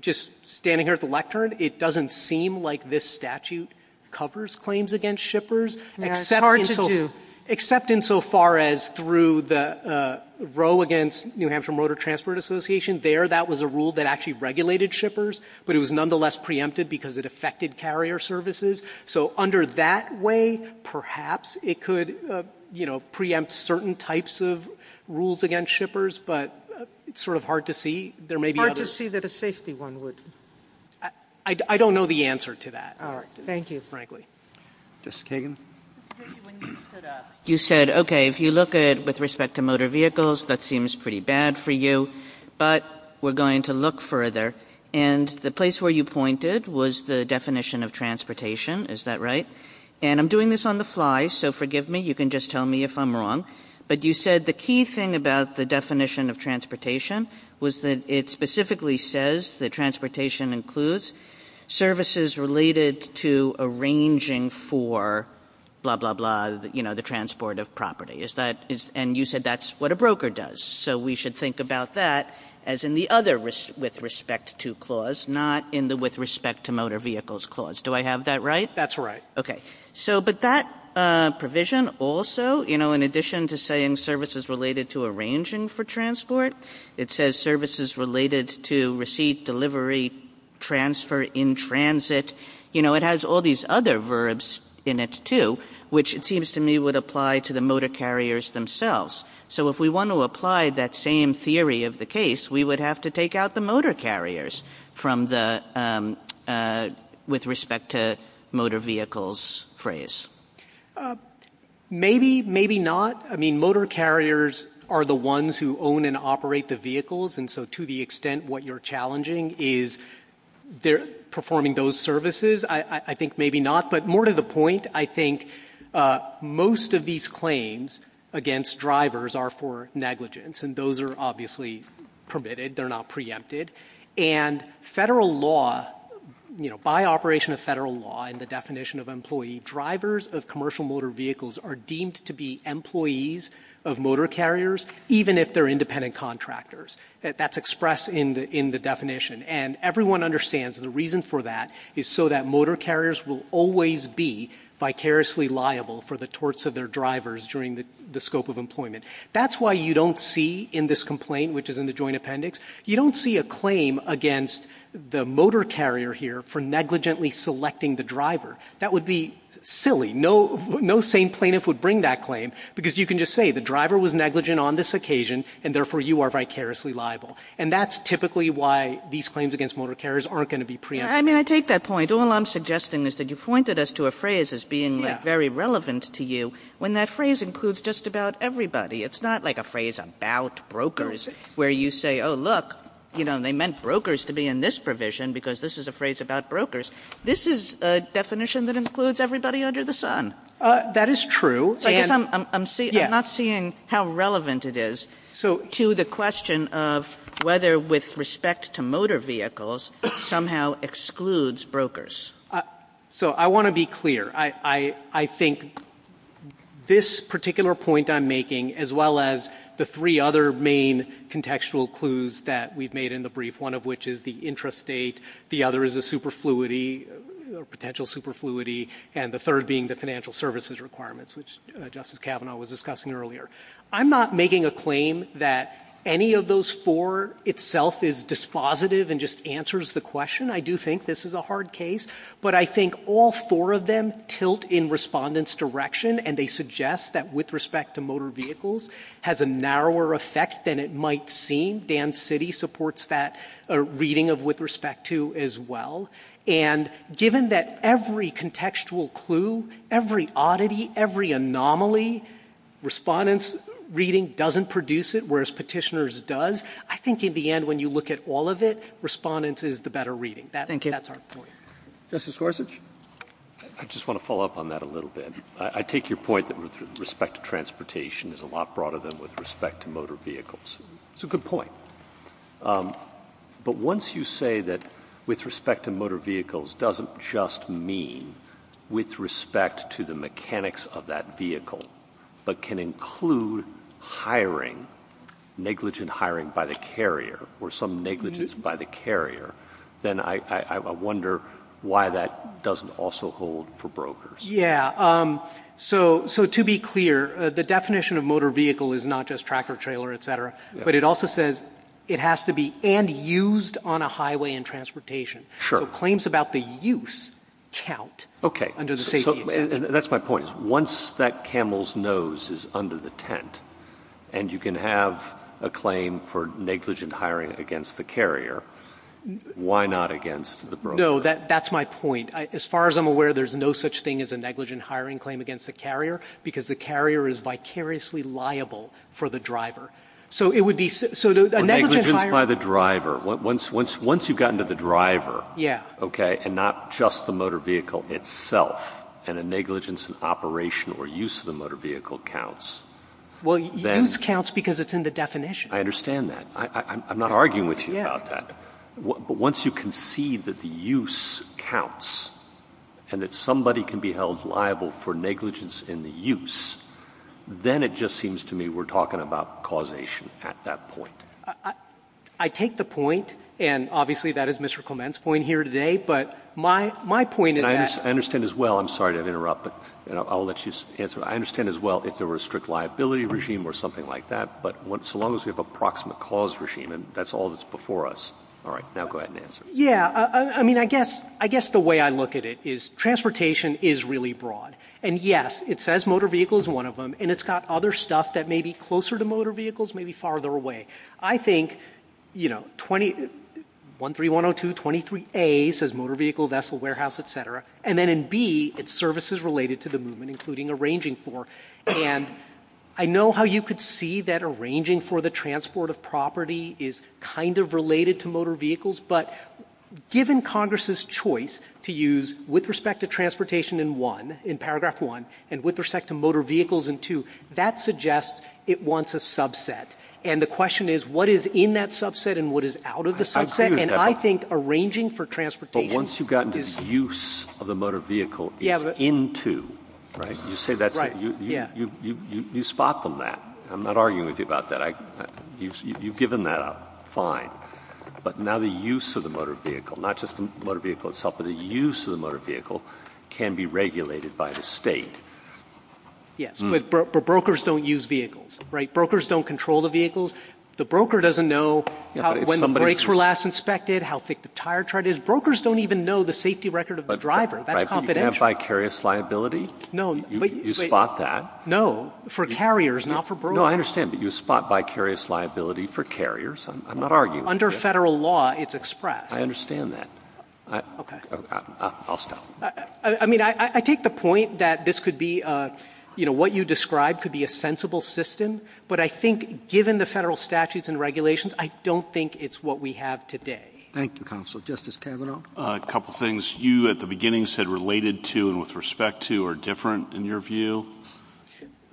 just standing here at the lectern, it doesn't seem like this statute, covers claims against shippers. Except in so far as through the row against New Hampshire Motor Transport Association there, that was a rule that actually regulated shippers, but it was nonetheless preempted because it affected carrier services. So under that way, perhaps it could, you know, preempt certain types of rules against shippers, but it's sort of hard to see. It's hard to see that a safety one would. I don't know the answer to that. All right. Thank you, frankly. Justice Kagan. You said, okay, if you look at it with respect to motor vehicles, that seems pretty bad for you, but we're going to look further. And the place where you pointed was the definition of transportation. Is that right? And I'm doing this on the fly, so forgive me. You can just tell me if I'm wrong. But you said the key thing about the definition of transportation was that it specifically says that transportation includes services related to arranging for blah, blah, blah, you know, the transport of property. And you said that's what a broker does. So we should think about that as in the other with respect to clause, not in the with respect to motor vehicles clause. Do I have that right? That's right. Okay. So, but that provision also, you know, in addition to saying services related to arranging for transport, it says services related to receipt delivery, transfer in transit, you know, it has all these other verbs in it too, which it seems to me would apply to the motor carriers themselves. So if we want to apply that same theory of the case, we would have to take out the motor carriers from the, with respect to motor vehicles phrase. Maybe, maybe not. I mean, motor carriers are the ones who own and operate the vehicles. And so to the extent, what you're challenging is they're performing those services. I think maybe not, but more to the point, I think most of these claims against drivers are for negligence and those are obviously permitted. They're not preempted and federal law, you know, by operation of federal law and the definition of employee drivers of commercial motor vehicles are deemed to be employees of motor carriers, even if they're independent contractors that that's expressed in the, in the definition. And everyone understands the reason for that is so that motor carriers will always be vicariously liable for the torts of their drivers during the, the scope of employment. That's why you don't see in this complaint, which is in the joint appendix, you don't see a claim against the motor carrier here for negligently selecting the driver. That would be silly. No, no sane plaintiff would bring that claim because you can just say the driver was negligent on this occasion and therefore you are vicariously liable. And that's typically why these claims against motor carriers aren't going to be preempted. I mean, I take that point. All I'm suggesting is that you pointed us to a phrase as being very relevant to you when that phrase includes just about everybody. It's not like a phrase about brokers where you say, Oh look, you know, they meant brokers to be in this provision because this is a phrase about brokers. This is a definition that includes everybody under the sun. That is true. I guess I'm not seeing how relevant it is. So to the question of whether with respect to motor vehicles somehow excludes brokers. So I want to be clear. I, I, I think this particular point I'm making as well as the three other main contextual clues that we've made in the brief, one of which is the interest state. The other is a super fluidity or potential super fluidity. And the third being the financial services requirements, which justice Kavanaugh was discussing earlier. I'm not making a claim that any of those four itself is dispositive and just answers the question. I do think this is a hard case, but I think all four of them tilt in respondents direction and they suggest that with respect to motor vehicles has a narrower effect than it might seem. Dan city supports that reading of with respect to as well. And given that every contextual clue, every oddity, every anomaly respondents reading doesn't produce it. Whereas petitioners does. I think in the end, when you look at all of it, respondents is the better reading. That's our point. I just want to follow up on that a little bit. I take your point that with respect to transportation is a lot broader than with respect to motor vehicles. It's a good point. But once you say that with respect to motor vehicles, doesn't just mean with respect to the mechanics of that vehicle, but can include hiring negligent hiring by the carrier or some negligence by the carrier. Then I wonder why that doesn't also hold for brokers. Yeah. So, so to be clear, the definition of motor vehicle is not just tractor trailer, et cetera, but it also says it has to be and used on a highway and transportation. Sure. Claims about the use count. Okay. And does it say that's my point is once that camel's nose is under the tent and you can have a claim for negligent hiring against the carrier, why not against the bro? No, that, that's my point. As far as I'm aware, there's no such thing as a negligent hiring claim against the carrier because the carrier is vicariously liable for the driver. So it would be by the driver once, once, once you've gotten to the driver. Yeah. Okay. And not just the motor vehicle itself and a negligence in operational or use of the motor vehicle counts. Well, then it counts because it's in the definition. I understand that. I, I'm not arguing with you about that. But once you can see that the use counts and that somebody can be held liable for negligence in the use, then it just seems to me we're talking about causation at that point. I take the point. And obviously that is Mr. Clement's point here today. But my, my point is, I understand as well. I'm sorry to interrupt, but I'll let you answer. I understand as well if there were a strict liability regime or something like that, but once, as long as we have a proximate cause regime and that's all that's before us. All right, now go ahead and answer. Yeah. I mean, I guess, I guess the way I look at it is transportation is really broad and yes, it says motor vehicle is one of them and it's got other stuff that may be closer to motor vehicles, maybe farther away. I think, you know, 20, one three one Oh two 23 a says motor vehicle, vessel, warehouse, et cetera. And then in B it's services related to the movement, including arranging for, and I know how you could see that arranging for the transport of property is kind of related to motor vehicles, but given Congress's choice to use with respect to transportation in one in paragraph one and with respect to motor vehicles and two, that suggests it wants a subset. And the question is what is in that subset and what is out of the subset. And I think arranging for transportation, but once you've gotten this use of the motor vehicle into, right, you say that you, you, you, you, you, you spot them that I'm not arguing with you about that. I, you've, you've given that up fine, but now the use of the motor vehicle, not just the motor vehicle itself, but the use of the motor vehicle can be regulated by the state. Yes. But brokers don't use vehicles, right? Brokers don't control the vehicles. The broker doesn't know when the brakes were last inspected, how thick the tire tread is. Brokers don't even know the safety record of the driver. That's confidential. You have vicarious liability. No, you spot that. No, for carriers, not for brokers. No, I understand. But you spot vicarious liability for carriers. I'm not arguing. Under federal law, it's expressed. I understand that. Okay. I'll stop. I mean, I take the point that this could be, you know, what you described could be a sensible system, but I think given the federal statutes and regulations, I don't think it's what we have today. Thank you, counsel. Justice Kavanaugh. A couple of things you at the beginning said related to, and with respect to are different in your view.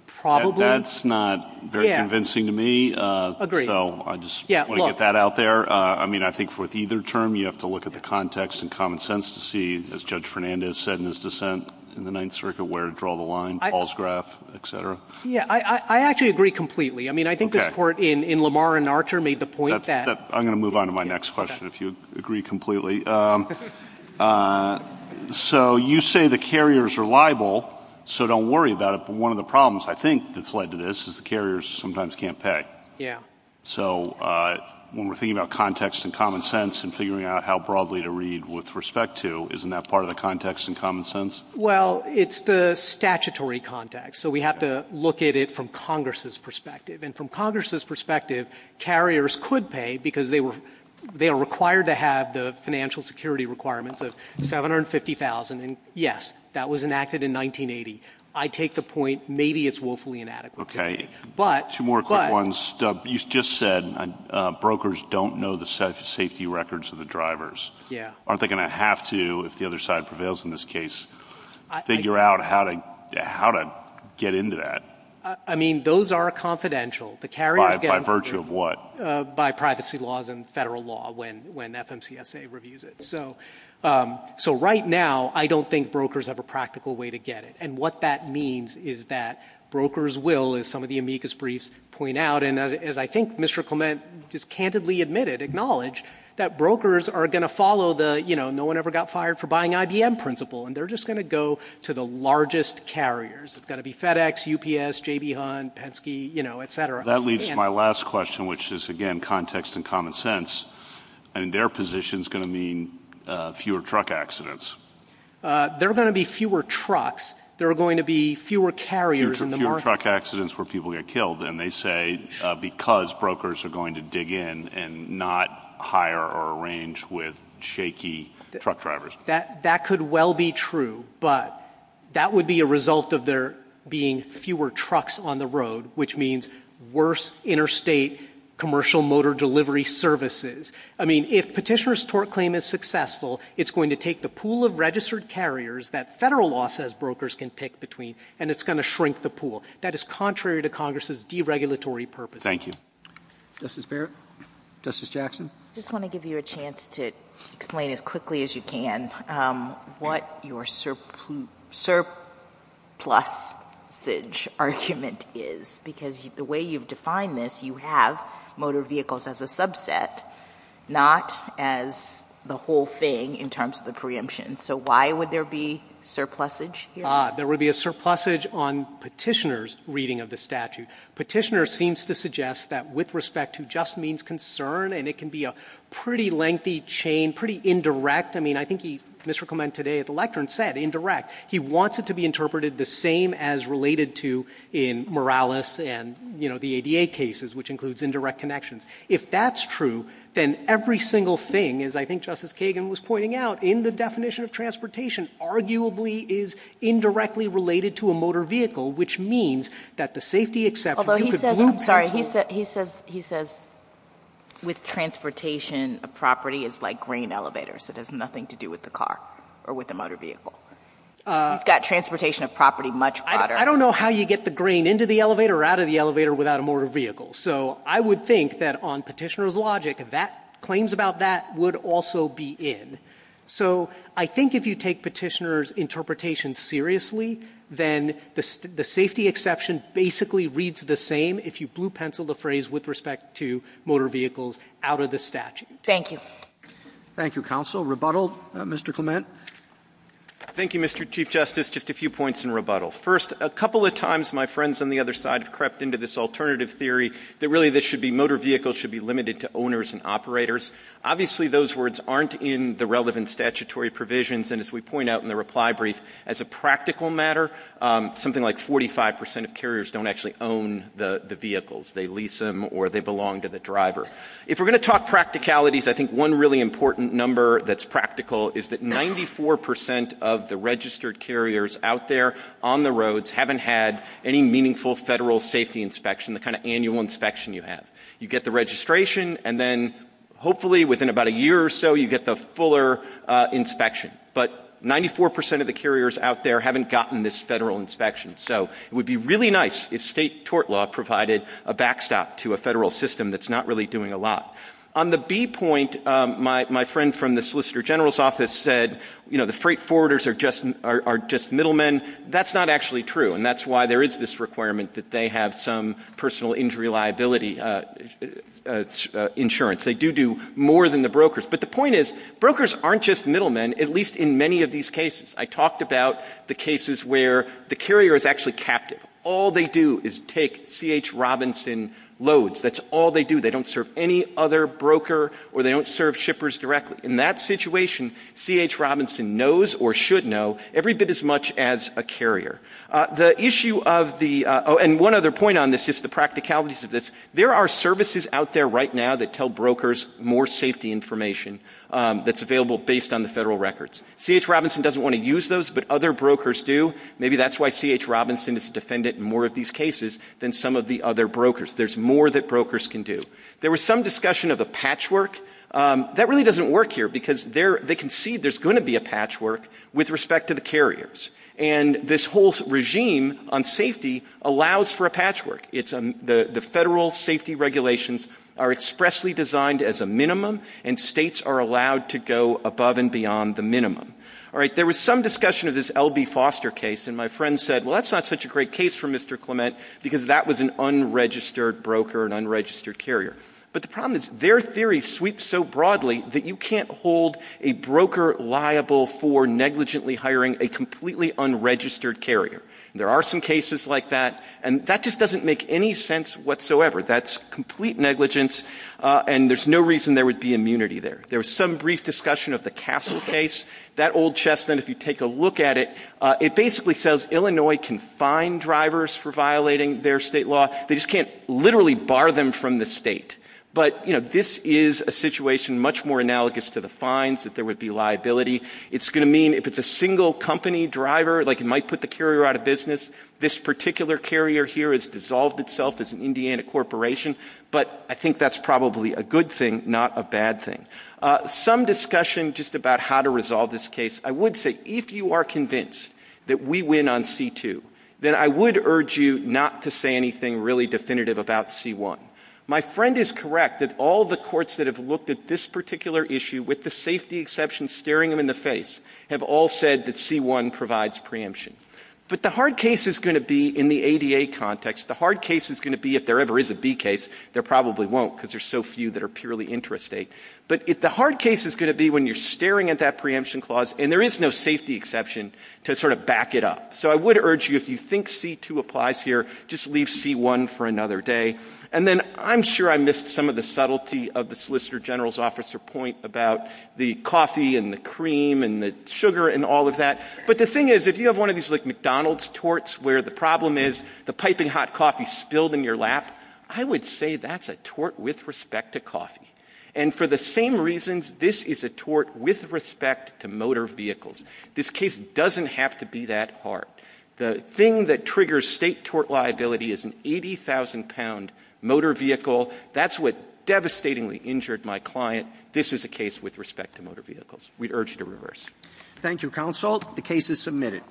Probably. That's not very convincing to me. So I just want to get that out there. I mean, I think for either term, you have to look at the context and common sense to see as Judge Fernandez said in his dissent in the Ninth Circuit, where to draw the line, Paul's graph, et cetera. Yeah, I actually agree completely. I mean, I think the court in Lamar and Archer made the point that. I'm going to move on to my next question if you agree completely. So you say the carriers are liable, so don't worry about it. But one of the problems I think that's led to this is the carriers sometimes can't pay. Yeah. So when we're thinking about context and common sense and figuring out how broadly to read with respect to, isn't that part of the context and common sense? Well, it's the statutory context. So we have to look at it from Congress's perspective and from Congress's carriers could pay because they were they are required to have the financial security requirements of 750,000. And yes, that was enacted in 1980. I take the point. Maybe it's woefully inadequate. Okay. Two more quick ones. You just said brokers don't know the safety records of the drivers. Yeah. Aren't they going to have to, if the other side prevails in this case, figure out how to get into that? I mean, those are confidential. By virtue of what? By privacy laws and federal law when FMCSA reviews it. So right now, I don't think brokers have a practical way to get it. And what that means is that brokers will, as some of the amicus briefs point out. And as I think Mr. Clement just candidly admitted, acknowledge that brokers are going to follow the, you know, no one ever got fired for buying IBM principle. And they're just going to go to the largest carriers. It's got to be FedEx, UPS, J.B. Hunt, Penske, you know, et cetera. That leads to my last question, which is again, context and common sense. And their position is going to mean fewer truck accidents. There are going to be fewer trucks. There are going to be fewer carriers in the market. Fewer truck accidents where people get killed. And they say because brokers are going to dig in and not hire or arrange with shaky truck drivers. That could well be true. But that would be a result of there being fewer trucks on the road, which means worse interstate commercial motor delivery services. I mean, if Petitioner's tort claim is successful, it's going to take the pool of registered carriers that federal law says brokers can pick between, and it's going to shrink the pool. That is contrary to Congress's deregulatory purpose. Thank you. Justice Barrett? Justice Jackson? I just want to give you a chance to explain as quickly as you can what your surplusage argument is. Because the way you've defined this, you have motor vehicles as a subset, not as the whole thing in terms of the preemption. So why would there be surplusage here? There would be a surplusage on Petitioner's reading of the statute. Petitioner seems to suggest that with respect to just means concern, and it can be a pretty lengthy chain, pretty indirect. I mean, I think Mr. Clement today at the lectern said indirect. He wants it to be interpreted the same as related to in Morales and, you know, the ADA cases, which includes indirect connections. If that's true, then every single thing, as I think Justice Kagan was pointing out, in the definition of transportation, arguably is indirectly related to a motor vehicle, which means that the safety exception, you could glue Petitioner. Sorry, he says with transportation, the property is like grain elevators, so there's nothing to do with the car or with the motor vehicle. He's got transportation of property much broader. I don't know how you get the grain into the elevator or out of the elevator without a motor vehicle. So I would think that on Petitioner's logic, claims about that would also be in. So I think if you take Petitioner's interpretation seriously, then the safety exception basically reads the same if you blue pencil the phrase with respect to motor vehicles out of the statute. Thank you. Thank you, counsel. Rebuttal, Mr. Clement? Thank you, Mr. Chief Justice. Just a few points in rebuttal. First, a couple of times my friends on the other side have crept into this alternative theory that really motor vehicles should be limited to owners and operators. Obviously those words aren't in the relevant statutory provisions, and as we point out in the reply brief, as a practical matter, something like 45% of carriers don't actually own the vehicles. They lease them or they belong to the driver. If we're going to talk practicalities, I think one really important number that's practical is that 94% of the registered carriers out there on the roads haven't had any meaningful federal safety inspection, the kind of annual inspection you have. You get the registration, and then hopefully within about a year or so you get the fuller inspection. But 94% of the carriers out there haven't gotten this federal inspection. So it would be really nice if state tort law provided a backstop to a federal system that's not really doing a lot. On the B point, my friend from the Solicitor General's office said, you know, the freight forwarders are just middlemen. That's not actually true, and that's why there is this requirement that they have some personal injury liability insurance. They do do more than the brokers. But the point is brokers aren't just middlemen, at least in many of these cases. I talked about the cases where the carrier is actually captive. All they do is take C.H. Robinson loads. That's all they do. They don't serve any other broker or they don't serve shippers directly. In that situation, C.H. Robinson knows or should know every bit as much as a carrier. The issue of the-and one other point on this is the practicalities of this. There are services out there right now that tell brokers more safety information that's available based on the federal records. C.H. Robinson doesn't want to use those, but other brokers do. Maybe that's why C.H. Robinson is a defendant in more of these cases than some of the other brokers. There's more that brokers can do. There was some discussion of a patchwork. That really doesn't work here, because they concede there's going to be a patchwork with respect to the carriers. And this whole regime on safety allows for a patchwork. The federal safety regulations are expressly designed as a minimum, and states are allowed to go above and beyond the minimum. There was some discussion of this L.B. Foster case, and my friend said, well, that's not such a great case for Mr. Clement because that was an unregistered broker, an unregistered carrier. But the problem is their theory sweeps so broadly that you can't hold a broker liable for negligently hiring a completely unregistered carrier. There are some cases like that, and that just doesn't make any sense whatsoever. That's complete negligence, and there's no reason there would be immunity there. There was some brief discussion of the Castle case. That old chestnut, if you take a look at it, it basically says Illinois can fine drivers for violating their state law. They just can't literally bar them from the state. But this is a situation much more analogous to the fines, that there would be liability. It's going to mean if it's a single company driver, like it might put the carrier out of business. This particular carrier here has dissolved itself as an Indiana corporation, but I think that's probably a good thing, not a bad thing. Some discussion just about how to resolve this case. I would say if you are convinced that we win on C2, then I would urge you not to say anything really definitive about C1. My friend is correct that all the courts that have looked at this particular issue, with the safety exception staring them in the face, have all said that C1 provides preemption. But the hard case is going to be in the ADA context, the hard case is going to be if there ever is a D case, there probably won't because there's so few that are purely intrastate, but the hard case is going to be when you're staring at that preemption clause, and there is no safety exception to sort of back it up. So I would urge you, if you think C2 applies here, just leave C1 for another day. And then I'm sure I missed some of the subtlety of the Solicitor General's officer point about the coffee and the cream and the sugar and all of that, but the thing is, if you have one of these like McDonald's torts where the problem is the piping hot coffee spilled in your lap, I would say that's a tort with respect to coffee. And for the same reasons, this is a tort with respect to motor vehicles. This case doesn't have to be that hard. The thing that triggers state tort liability is an 80,000-pound motor vehicle. That's what devastatingly injured my client. This is a case with respect to motor vehicles. We urge you to reverse. Thank you, Counsel. The case is submitted.